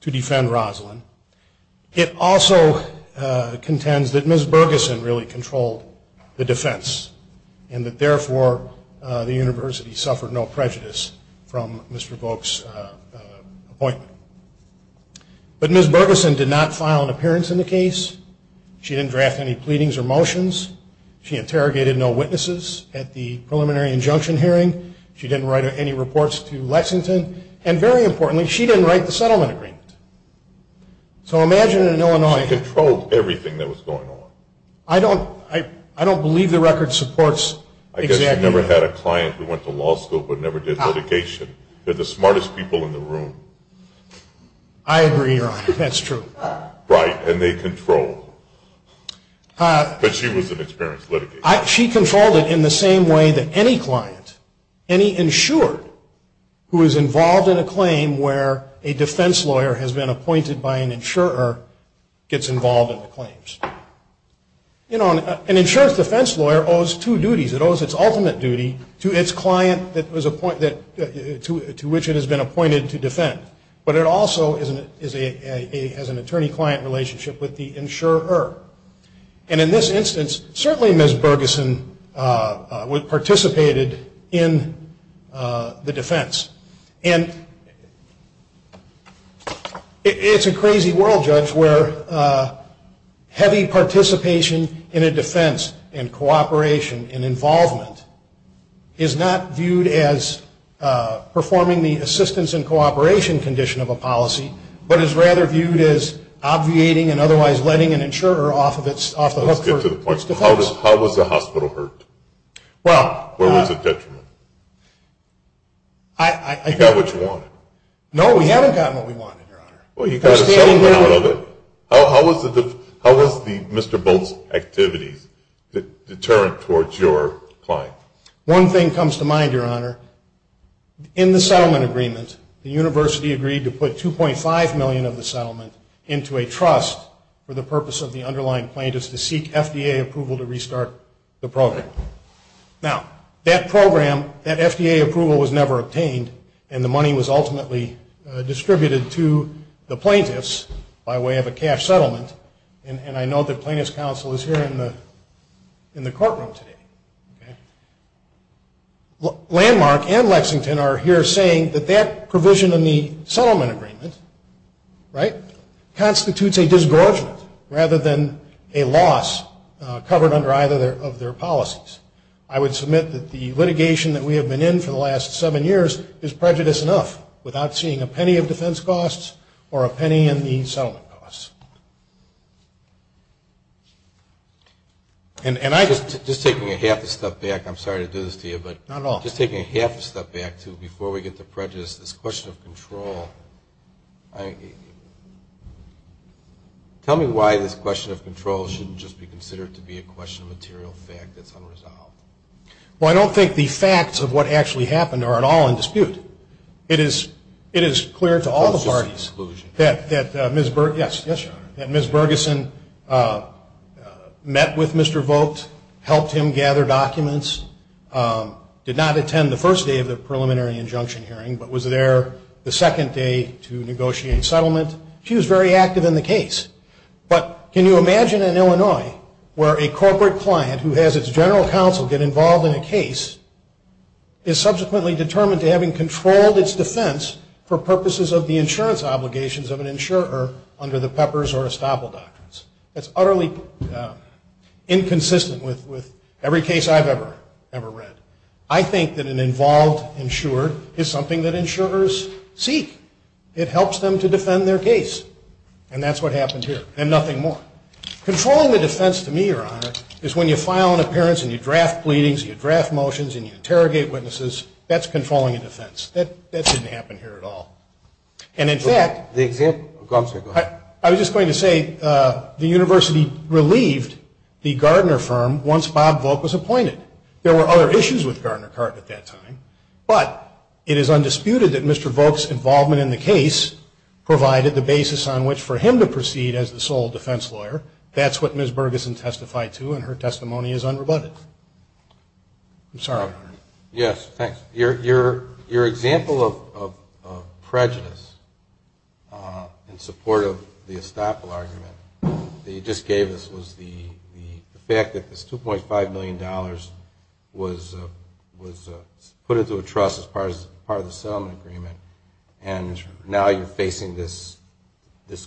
to defend Roswell, it also contends that Ms. Bergeson really controlled the defense and that therefore the university suffered no prejudice from Mr. Vogt's appointment. But Ms. Bergeson did not file an appearance in the case. She didn't draft any pleadings or motions. She interrogated no witnesses at the preliminary injunction hearing. She didn't write any reports to Lexington. And very importantly, she didn't write the settlement agreement. So imagine in Illinois... She controlled everything that was going on. I don't believe the record supports... I guess she never had a client who went to law school but never did litigation. They're the smartest people in the room. I agree, Your Honor. That's true. Right, and they controlled. But she was an experienced litigator. She controlled it in the same way that any client, any insurer, who is involved in a claim where a defense lawyer has been appointed by an insurer, gets involved in the claims. You know, an insurer's defense lawyer owes two duties. It owes its ultimate duty to its client to which it has been appointed to defend. But it also has an attorney-client relationship with the insurer. And in this instance, certainly Ms. Bergeson participated in the defense. Heavy participation in a defense and cooperation and involvement is not viewed as performing the assistance and cooperation condition of a policy, but is rather viewed as obviating and otherwise letting an insurer off the hook. How does the hospital hurt? Where was the detriment? You got what you wanted. No, we haven't gotten what we wanted, Your Honor. How was Mr. Bolt's activity determined towards your client? One thing comes to mind, Your Honor. In the settlement agreement, the university agreed to put $2.5 million of the settlement into a trust for the purpose of the underlying plaintiffs to seek FDA approval to restart the program. Now, that program, that FDA approval was never obtained, and the money was ultimately distributed to the plaintiffs by way of a cash settlement. And I know that plaintiff's counsel is here in the courtroom today. Landmark and Lexington are here saying that that provision in the settlement agreement constitutes a disgorgement rather than a loss covered under either of their policies. I would submit that the litigation that we have been in for the last seven years is prejudice enough without seeing a penny in defense costs or a penny in the settlement costs. Just taking a half a step back, I'm sorry to do this to you. Not at all. Just taking a half a step back, too, before we get to prejudice, this question of control, tell me why this question of control shouldn't just be considered to be a question of material fact that's unresolved. Well, I don't think the facts of what actually happened are at all in dispute. It is clear to all the parties that Ms. Bergeson met with Mr. Vogt, helped him gather documents, did not attend the first day of the preliminary injunction hearing, but was there the second day to negotiate settlement. She was very active in the case. But can you imagine in Illinois where a corporate client who has its general counsel get involved in a case is subsequently determined to having controlled its defense for purposes of the insurance obligations of an insurer under the Peppers or Estoppel Doctrines. That's utterly inconsistent with every case I've ever read. I think that an involved insurer is something that insurers seek. It helps them to defend their case. And that's what happened here. And nothing more. Controlling the defense to me, Your Honor, is when you file an appearance and you draft pleadings and you draft motions and you interrogate witnesses, that's controlling a defense. That didn't happen here at all. And in fact, I was just going to say the university relieved the Gardner firm once Bob Vogt was appointed. There were other issues with Gardner Park at that time, but it is undisputed that Mr. Vogt's involvement in the case provided the basis on which for him to proceed as the sole defense lawyer. That's what Ms. Bergeson testified to, and her testimony is unrebutted. I'm sorry. Yes, thanks. Your example of prejudice in support of the estoppel argument that you just gave us was the fact that this $2.5 million was put into a trust as part of the settlement agreement, and now you're facing this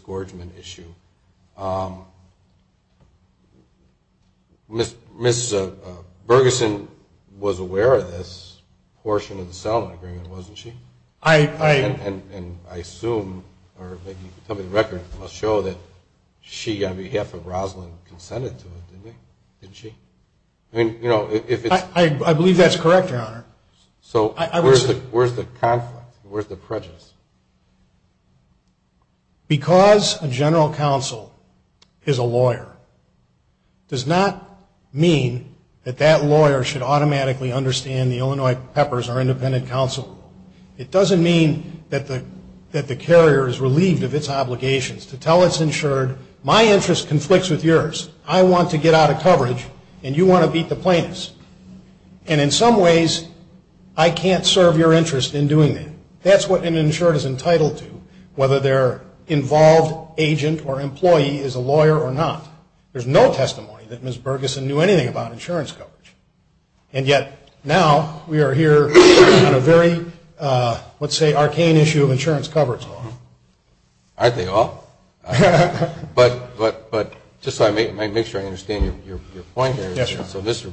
gorgement issue. Ms. Bergeson was aware of this portion of the settlement agreement, wasn't she? And I assume, or maybe somebody's record must show that she, on behalf of Roslyn, consented to it, didn't she? I believe that's correct, Your Honor. So where's the prejudice? Because a general counsel is a lawyer, does not mean that that lawyer should automatically understand the Illinois PEPPERS or independent counsel rule. It doesn't mean that the carrier is relieved of its obligations to tell its insured, my interest conflicts with yours. I want to get out of coverage, and you want to beat the plaintiffs. And in some ways, I can't serve your interest in doing that. That's what an insured is entitled to, whether their involved agent or employee is a lawyer or not. There's no testimony that Ms. Bergeson knew anything about insurance coverage, and yet now we are here on a very, let's say, arcane issue of insurance coverage. Aren't they all? But just so I make sure I understand your point there, So Mr.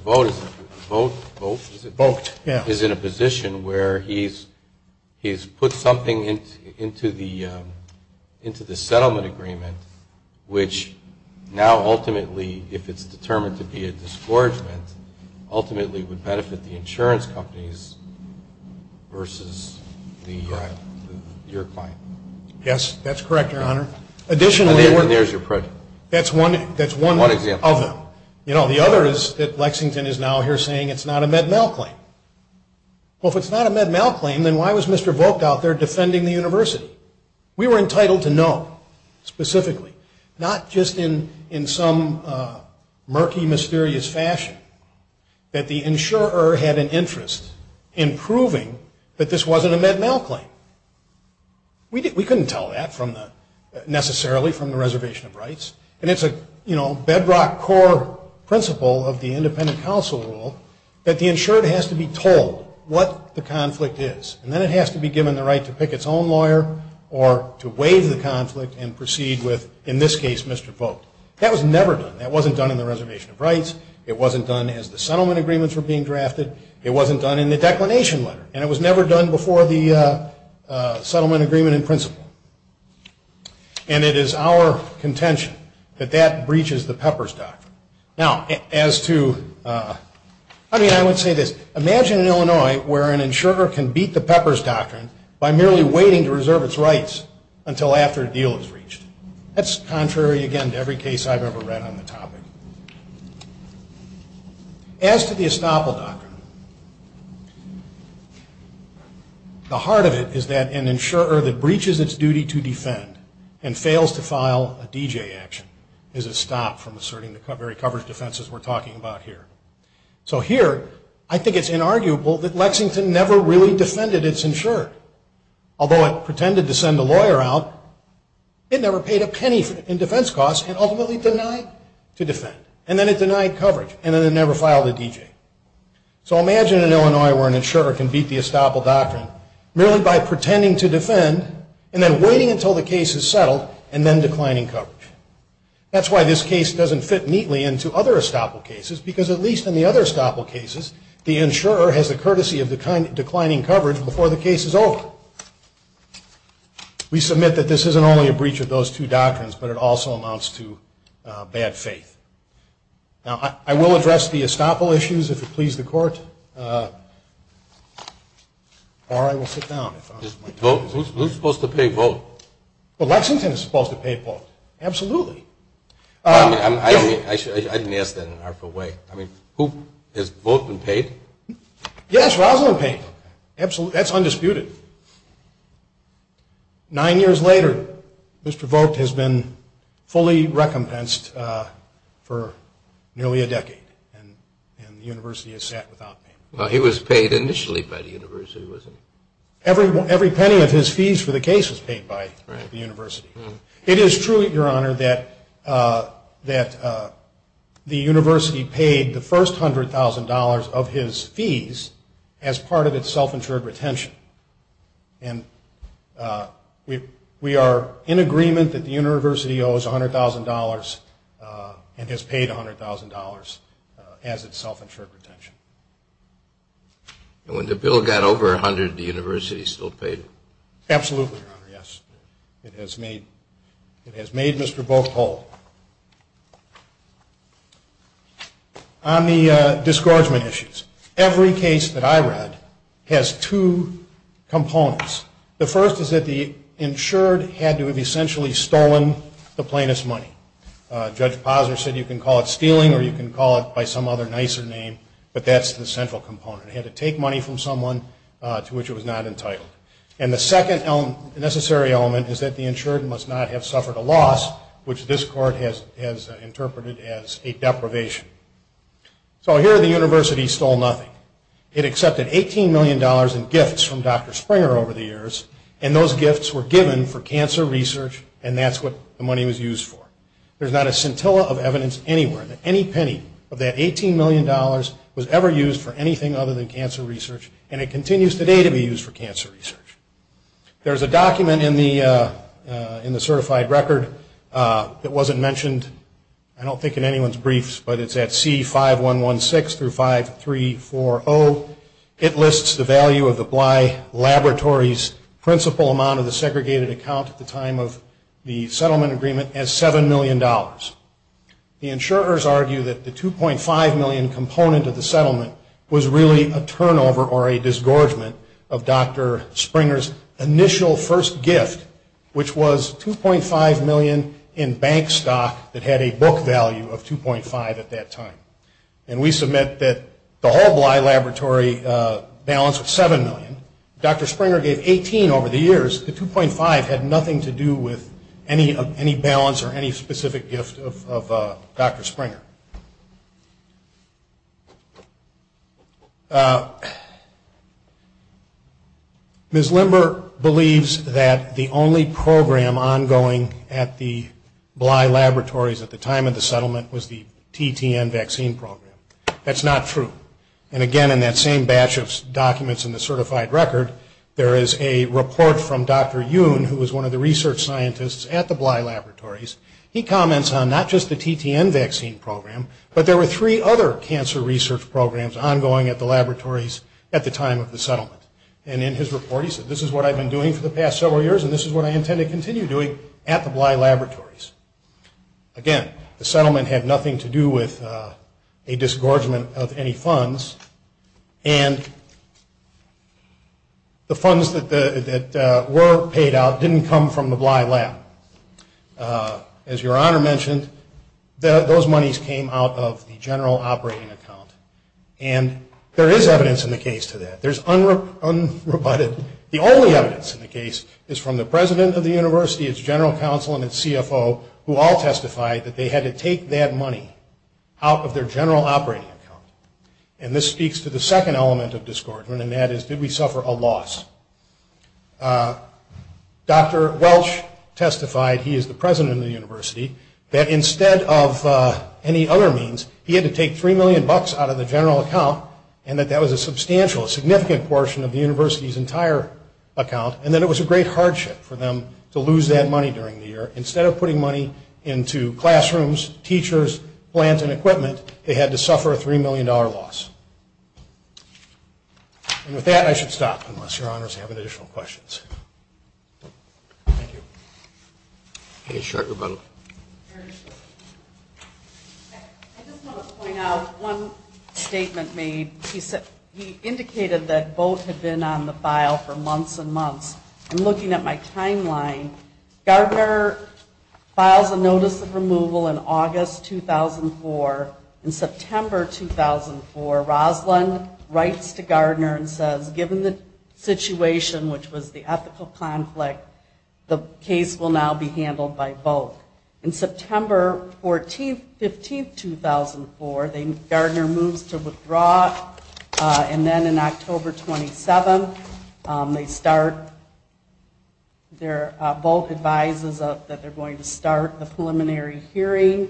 Vogt is in a position where he's put something into the settlement agreement, which now ultimately, if it's determined to be a disgorgement, ultimately would benefit the insurance companies versus your client. Yes, that's correct, Your Honor. Additionally, That's one example. The other is that Lexington is now here saying it's not a Med-Mal claim. Well, if it's not a Med-Mal claim, then why was Mr. Vogt out there defending the university? We were entitled to know, specifically, not just in some murky, mysterious fashion, that the insurer had an interest in proving that this wasn't a Med-Mal claim. We couldn't tell that necessarily from the reservation of rights. And it's a bedrock core principle of the independent counsel rule that the insurer has to be told what the conflict is. And then it has to be given the right to pick its own lawyer or to waive the conflict and proceed with, in this case, Mr. Vogt. That was never done. That wasn't done in the reservation of rights. It wasn't done as the settlement agreements were being drafted. It wasn't done in the declination letter. And it was never done before the settlement agreement in principle. And it is our contention that that breaches the Pepper's Doctrine. Now, as to – I mean, I would say this. Imagine in Illinois where an insurer can beat the Pepper's Doctrine by merely waiting to reserve its rights until after a deal is reached. That's contrary, again, to every case I've ever read on the topic. As to the Estoppel Doctrine, the heart of it is that an insurer that breaches its duty to defend and fails to file a D.J. action is a stop from asserting the very coverage defenses we're talking about here. So here, I think it's inarguable that Lexington never really defended its insurer. Although it pretended to send the lawyer out, it never paid a penny in defense costs and ultimately denied to defend. And then it denied coverage. And then it never filed a D.J. So imagine in Illinois where an insurer can beat the Estoppel Doctrine merely by pretending to defend and then waiting until the case is settled and then declining coverage. That's why this case doesn't fit neatly into other Estoppel cases because at least in the other Estoppel cases, the insurer has the courtesy of declining coverage before the case is over. We submit that this isn't only a breach of those two doctrines, but it also amounts to bad faith. Now, I will address the Estoppel issues if it pleases the court. Or I will sit down. Who's supposed to pay votes? Well, Lexington is supposed to pay votes. Absolutely. I didn't ask that out of the way. I mean, who? Is Bolton paid? Yes, Roslyn paid. Absolutely. That's undisputed. Nine years later, Mr. Bolton has been fully recompensed for nearly a decade, and the university has sat without him. Well, he was paid initially by the university, wasn't he? Every penny of his fees for the case was paid by the university. It is true, Your Honor, that the university paid the first $100,000 of his fees as part of its self-insured retention. And we are in agreement that the university owes $100,000 and has paid $100,000 as its self-insured retention. When the bill got over $100,000, the university still paid? Absolutely, Your Honor, yes. It has made Mr. Bolton whole. On the disgorgement issues, every case that I read has two components. The first is that the insured had to have essentially stolen the plaintiff's money. Judge Posner said you can call it stealing or you can call it by some other nicer name, but that's the central component. It had to take money from someone to which it was not entitled. And the second necessary element is that the insured must not have suffered a loss, which this court has interpreted as a deprivation. So here the university stole nothing. It accepted $18 million in gifts from Dr. Springer over the years, and those gifts were given for cancer research, and that's what the money was used for. There's not a scintilla of evidence anywhere that any penny of that $18 million was ever used for anything other than cancer research, and it continues today to be used for cancer research. There's a document in the certified record that wasn't mentioned, I don't think in anyone's briefs, but it's at C5116-5340. It lists the value of the Bly Laboratories principal amount of the segregated account at the time of the settlement agreement as $7 million. The insurers argue that the $2.5 million component of the settlement was really a turnover or a disgorgement of Dr. Springer's initial first gift, which was $2.5 million in bank stock that had a book value of $2.5 at that time. And we submit that the whole Bly Laboratory balance of $7 million. Dr. Springer gave $18 million over the years. The $2.5 had nothing to do with any balance or any specific gift of Dr. Springer. Ms. Limber believes that the only program ongoing at the Bly Laboratories at the time of the settlement was the TTN vaccine program. That's not true. And again, in that same batch of documents in the certified record, there is a report from Dr. Yoon, who was one of the research scientists at the Bly Laboratories. He comments on not just the TTN vaccine program, but there were three other cancer research programs ongoing at the laboratories at the time of the settlement. And in his report, he said, this is what I've been doing for the past several years, and this is what I intend to continue doing at the Bly Laboratories. Again, the settlement had nothing to do with a disgorgement of any funds, and the funds that were paid out didn't come from the Bly Lab. As Your Honor mentioned, those monies came out of the general operating account. And there is evidence in the case to that. There's unrebutted evidence. The only evidence in the case is from the president of the university, its general counsel, and its CFO, who all testified that they had to take that money out of their general operating account. And this speaks to the second element of disgorgement, and that is, did we suffer a loss? Dr. Welch testified, he is the president of the university, that instead of any other means, he had to take $3 million out of the general account, and that that was a substantial, significant portion of the university's entire account, and that it was a great hardship for them to lose that money during the year. Instead of putting money into classrooms, teachers, plans, and equipment, they had to suffer a $3 million loss. And with that, I should stop, unless Your Honors have additional questions. Thank you. Okay, sure, everybody. I just want to point out one statement made. He indicated that both had been on the file for months and months. And looking at my timeline, Gardner filed a notice of removal in August 2004, and in September 2004, Roslyn writes to Gardner and says, given the situation, which was the ethical conflict, the case will now be handled by both. In September 15, 2004, Gardner moves to withdraw, and then in October 27, they start, both advises that they're going to start the preliminary hearing.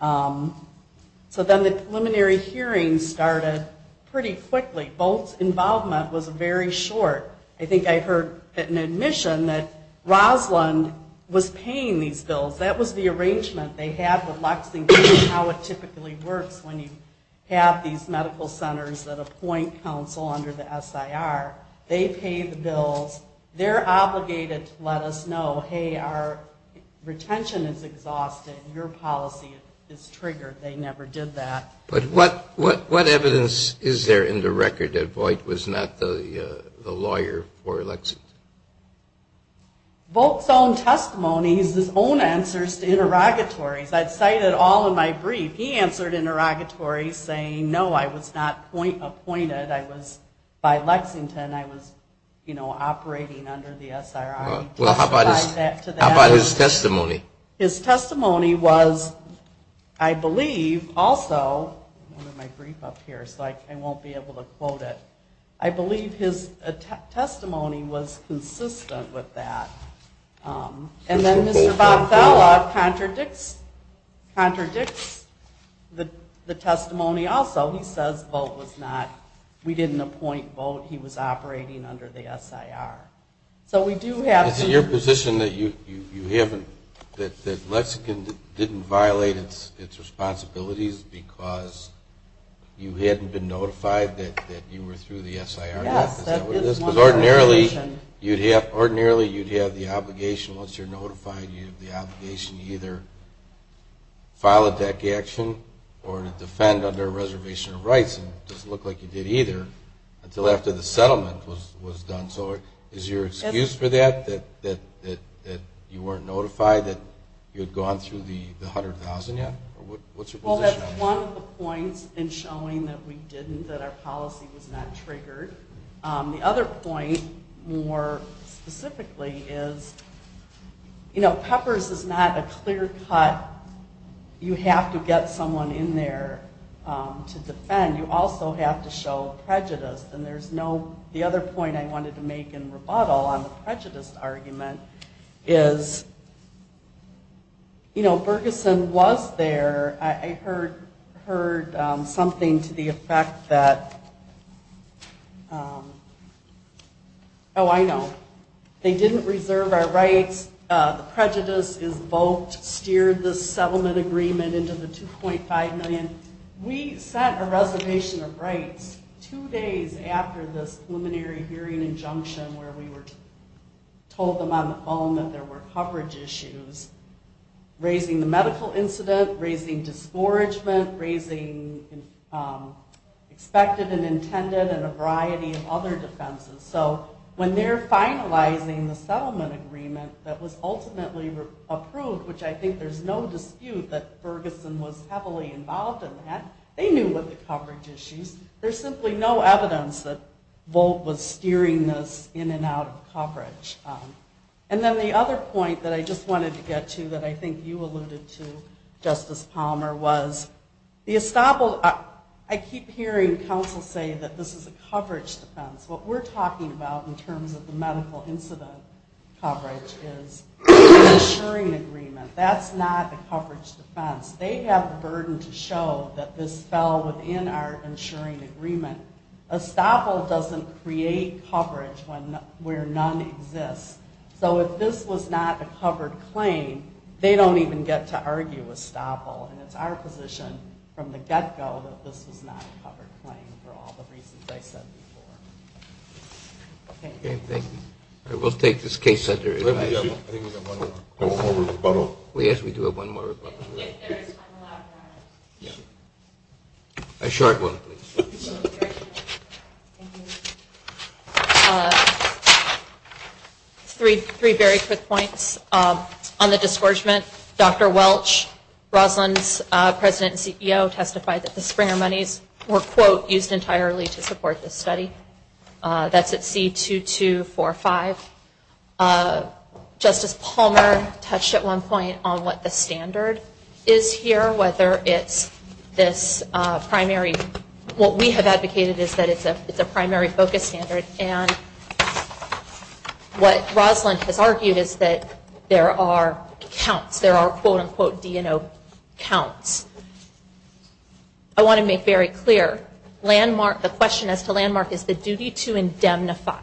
So then the preliminary hearing started pretty quickly. Both's involvement was very short. I think I heard at an admission that Roslyn was paying these bills. That was the arrangement they had with Lexington, how it typically works when you have these medical centers that appoint counsel under the SIR. They pay the bills. They're obligated to let us know, hey, our retention is exhausted. Your policy is triggered. They never did that. But what evidence is there in the record that Voight was not the lawyer for Lexington? Both's own testimony is his own answers to interrogatories. I cited all of my briefs. He answered interrogatories saying, no, I was not appointed. By Lexington, I was operating under the SIR. Well, how about his testimony? His testimony was, I believe, also, I have my brief up here, so I won't be able to quote it. I believe his testimony was consistent with that. And then this is Bob's outlaw contradicts the testimony also. He says Voight was not, we didn't appoint Voight. He was operating under the SIR. So we do have to. Is it your position that Lexington didn't violate its responsibilities because you hadn't been notified that you were through the SIR? Yes. Ordinarily, you'd have the obligation, once you're notified, you have the obligation to either file a deck action or to defend under a reservation of rights. It doesn't look like you did either until after the settlement was done. So is your excuse for that, that you weren't notified, that you had gone through the $100,000? What's your position on that? Well, that's one of the points in showing that we didn't, that our policy was not triggered. The other point, more specifically, is, you know, Peppers is not a clear-cut, you have to get someone in there to defend. You also have to show prejudice. And there's no, the other point I wanted to make in rebuttal on the prejudice argument is, you know, Ferguson was there. I heard something to the effect that, oh, I know. They didn't reserve our rights. The prejudice invoked, steered the settlement agreement into the $2.5 million. We set a reservation of rights two days after the preliminary hearing injunction where we told them on the phone that there were coverage issues, raising the medical incident, raising discouragement, raising expected and intended and a variety of other defenses. So when they're finalizing the settlement agreement that was ultimately approved, which I think there's no dispute that Ferguson was heavily involved in that, they knew what the coverage issues, there's simply no evidence that Volt was steering this in and out of coverage. And then the other point that I just wanted to get to that I think you alluded to, Justice Palmer, was the established, I keep hearing counsel say that this is a coverage defense. What we're talking about in terms of the medical incident coverage is an insuring agreement. That's not a coverage defense. They have a burden to show that this fell within our insuring agreement. ESTAFL doesn't create coverage where none exists. So if this was not a covered claim, they don't even get to argue ESTAFL. It's our position from the get-go that this is not a covered claim for all the reasons I said before. Thank you. We'll take this case under investigation. I think we have one more rebuttal. Oh, yes, we do have one more rebuttal. A short one. Three very quick points. On the discouragement, Dr. Welch, Brodlund's president and CEO testified that the springer monies were, quote, used entirely to support this study. That's at C-2245. Justice Palmer touched at one point on what the standard is here, whether it's this primary, what we have advocated is that it's a primary focus standard. And what Brodlund has argued is that there are counts. There are, quote, unquote, DNO counts. I want to make very clear, landmark, the question as to landmark is the duty to indemnify.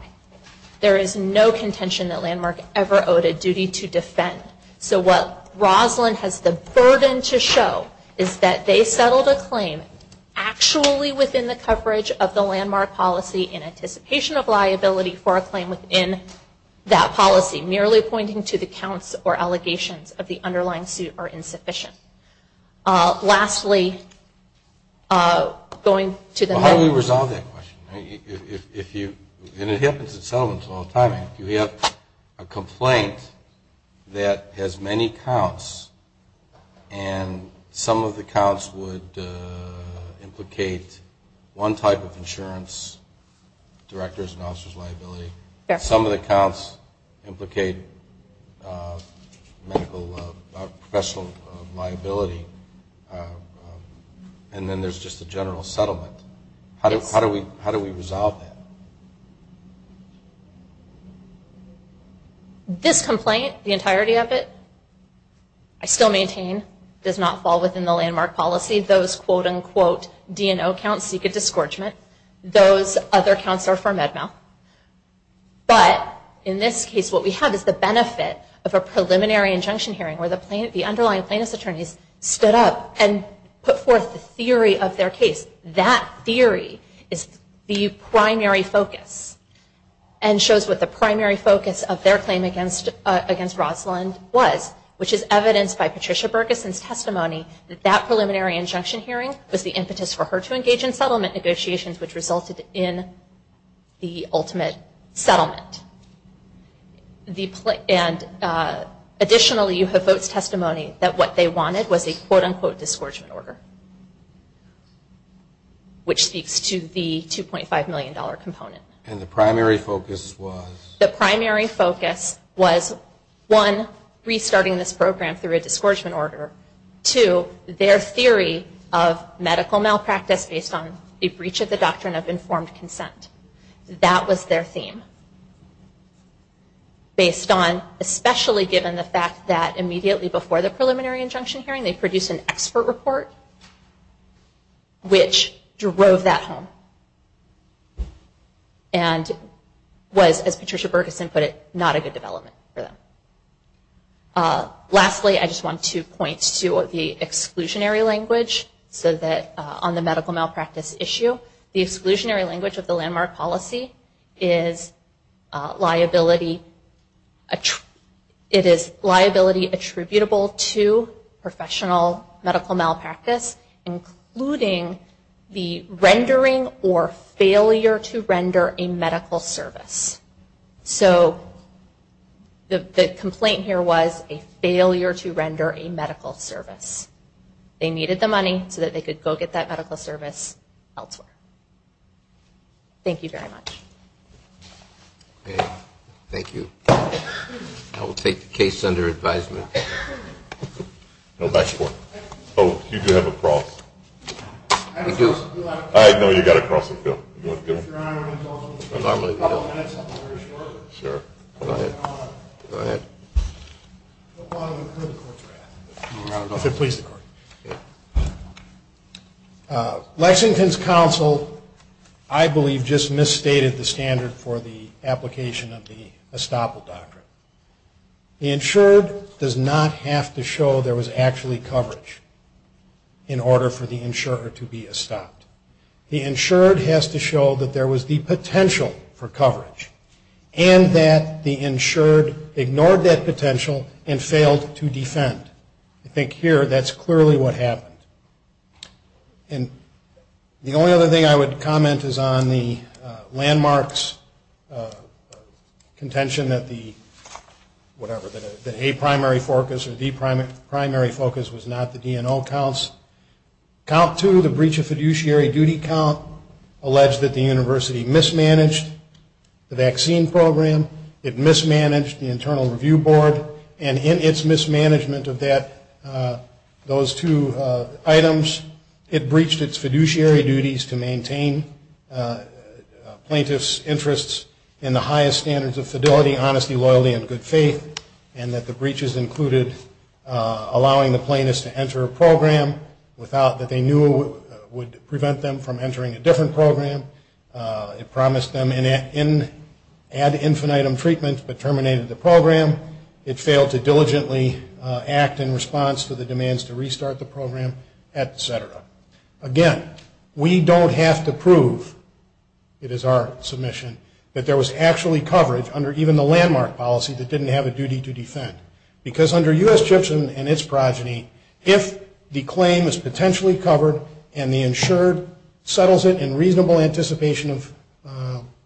There is no contention that landmark ever owed a duty to defend. So what Brodlund has the burden to show is that they settled a claim actually within the coverage of the landmark policy in anticipation of liability for a claim within that policy, merely pointing to the counts or allegations of the underlying suit or insufficient. Lastly, going to the... How do we resolve that question? If you... And it happens to tell us all the time. You have a complaint that has many counts, and some of the counts would implicate one type of insurance, director's and officer's liability. Yes. Some of the counts implicate professional liability, and then there's just a general settlement. How do we resolve that? This complaint, the entirety of it, I still maintain, does not fall within the landmark policy. Those, quote, unquote, DNO counts seek a disgorgement. Those other counts are for med-mal. But in this case, what we have is the benefit of a preliminary injunction hearing where the underlying plaintiff's attorneys stood up and put forth the theory of their case. That theory is the primary focus and shows what the primary focus of their claim against Brodlund was, which is evidenced by Patricia Bergeson's testimony that that preliminary injunction hearing was the impetus for her to engage in settlement negotiations, which resulted in the ultimate settlement. Additionally, you have both testimonies that what they wanted was a, quote, unquote, disgorgement order, which speaks to the $2.5 million component. And the primary focus was? The primary focus was, one, restarting this program through a disgorgement order. Two, their theory of medical malpractice based on the breach of the doctrine of informed consent. That was their theme. Based on, especially given the fact that immediately before the preliminary injunction hearing, they produced an expert report, which drove that home and was, as Patricia Bergeson put it, not a good development for them. Lastly, I just want to point to the exclusionary language on the medical malpractice issue. The exclusionary language of the landmark policy is liability attributable to professional medical malpractice, including the rendering or failure to render a medical service. So the complaint here was a failure to render a medical service. They needed the money so that they could go get that medical service elsewhere. Thank you very much. Thank you. I will take the case under advisement. No, next one. Oh, you do have a cross. I do. I know you've got a cross with Bill. Your Honor, I have something very short. Sure. Go ahead. Go ahead. Lexington's counsel, I believe, just misstated the standard for the application of the estoppel doctrine. The insured does not have to show there was actually coverage in order for the insurer to be estopped. The insured has to show that there was the potential for coverage and that the insured ignored that potential and failed to defend. I think here that's clearly what happened. And the only other thing I would comment is on the landmarks contention that the A primary focus or B primary focus was not the D&O counts. Count two, the breach of fiduciary duty count, alleged that the university mismanaged the vaccine program. It mismanaged the internal review board. And in its mismanagement of those two items, it breached its fiduciary duties to maintain plaintiff's interests in the highest standards of fidelity, honesty, loyalty, and good faith, and that the breaches included allowing the plaintiffs to enter a program without that they knew would prevent them from entering a different program. It promised them an ad infinitum treatment but terminated the program. It failed to diligently act in response to the demands to restart the program, et cetera. Again, we don't have to prove, it is our submission, that there was actually coverage under even the landmark policy that didn't have a duty to defend. Because under U.S. judgment and its progeny, if the claim is potentially covered and the insured settles it in reasonable anticipation of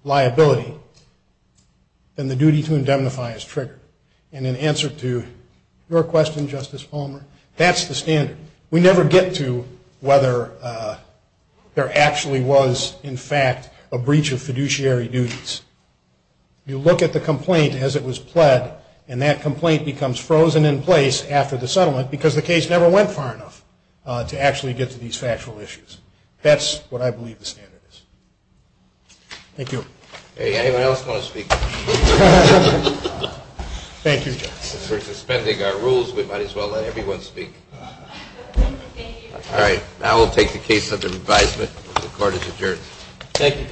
liability, then the duty to indemnify is triggered. And in answer to your question, Justice Palmer, that's the standard. We never get to whether there actually was, in fact, a breach of fiduciary duties. You look at the complaint as it was pled, and that complaint becomes frozen in place after the settlement because the case never went far enough to actually get to these factual issues. That's what I believe the standard is. Thank you. Hey, anyone else want to speak? Thank you. Since we're suspending our rules, we might as well let everyone speak. All right. Now we'll take a case of advisement. The court is adjourned. Thank you, counsel.